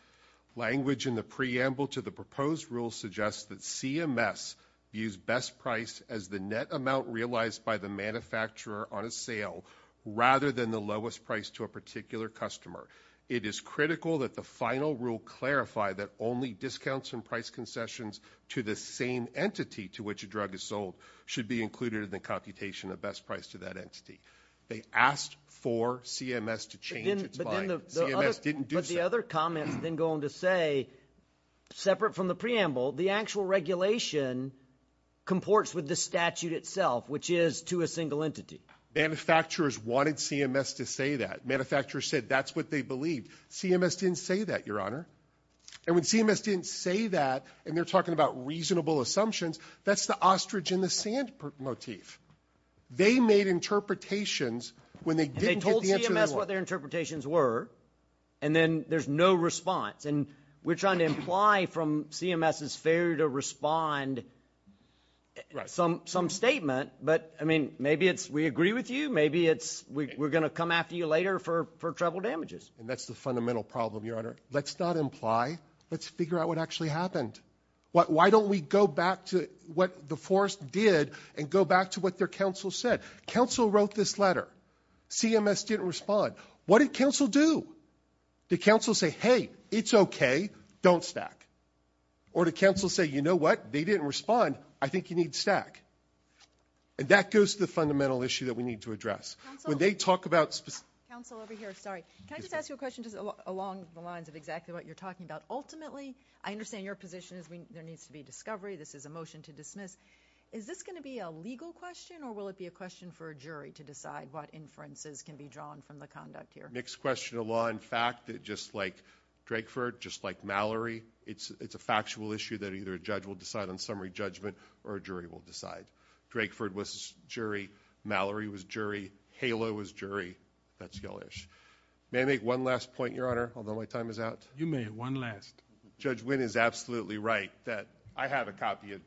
Language in the preamble to the proposed rule suggests that CMS views best price as the net amount realized by the manufacturer on a sale rather than the lowest price to a particular customer. It is critical that the final rule clarify that only discounts and price concessions to the same entity to which a drug is sold should be included in the computation of best price to that entity. They asked for CMS to change its mind. CMS didn't do so. But the other comment, then going to say, separate from the preamble, the actual regulation comports with the statute itself, which is to a single entity. Manufacturers wanted CMS to say that. Manufacturers said that's what they believed. CMS didn't say that, Your Honor. And when CMS didn't say that, and they're talking about reasonable assumptions, that's the ostrich in the sand motif. They made interpretations when they didn't get the answer they wanted. They told CMS what their interpretations were, and then there's no response. And we're trying to imply from CMS it's fair to respond to some statement, but maybe we agree with you. Maybe we're going to come after you later for treble damages. And that's the fundamental problem, Your Honor. Let's not imply. Let's figure out what actually happened. Why don't we go back to what the forest did and go back to what their council said? Council wrote this letter. CMS didn't respond. What did council do? Did council say, hey, it's okay, don't stack? Or did council say, you know what, they didn't respond, I think you need to stack? And that goes to the fundamental issue that we need to address. When they talk about... Can I just ask you a question along the lines of exactly what you're talking about? Ultimately, I understand your position is there needs to be discovery. This is a motion to dismiss. Is this going to be a legal question, or will it be a question for a jury to decide what inferences can be drawn from the conduct here? Next question, a law in fact, just like Drakeford, just like Mallory, it's a factual issue that either a judge will decide on summary judgment, or a jury will decide. Drakeford was jury. Mallory was jury. Hala was jury. May I make one last point, Your Honor, although my time is out? You may, one last. Judge Wynn is absolutely right that I have a copy of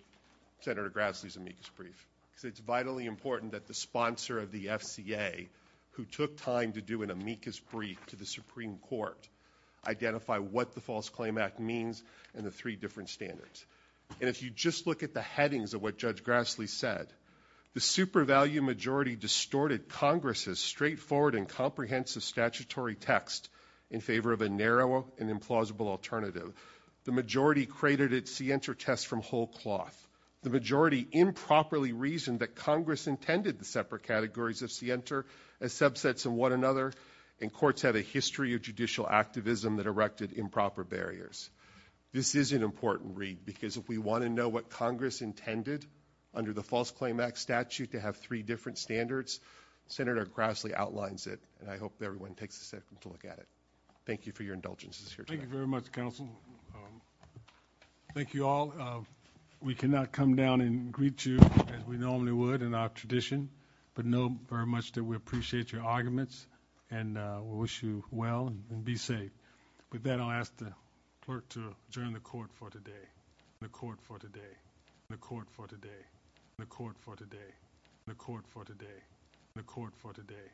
Senator Grassley's amicus brief. It's vitally important that the sponsor of the FCA, who took time to do an audit of the Supreme Court, identify what the False Claim Act means and the three different standards. And if you just look at the headings of what Judge Grassley said, the super-value majority distorted Congress's straightforward and comprehensive statutory text in favor of a narrow and implausible alternative. The majority created a scienter test from whole cloth. The majority improperly reasoned that Congress intended the separate categories of scienter and subsets from one another, and courts had a history of judicial activism that erected improper barriers. This is an important read, because if we want to know what Congress intended under the False Claim Act statute to have three different standards, Senator Grassley outlines it, and I hope everyone takes a second to look at it. Thank you for your indulgence. Thank you very much, counsel. Thank you all. We cannot come down and greet you as we normally would in our tradition, but we know very much that we appreciate your arguments and wish you well and be safe. With that, I'll ask the clerk to adjourn the Court for today. The Court for today. The Court for today. The Court for today. The Court for today. The Court for today.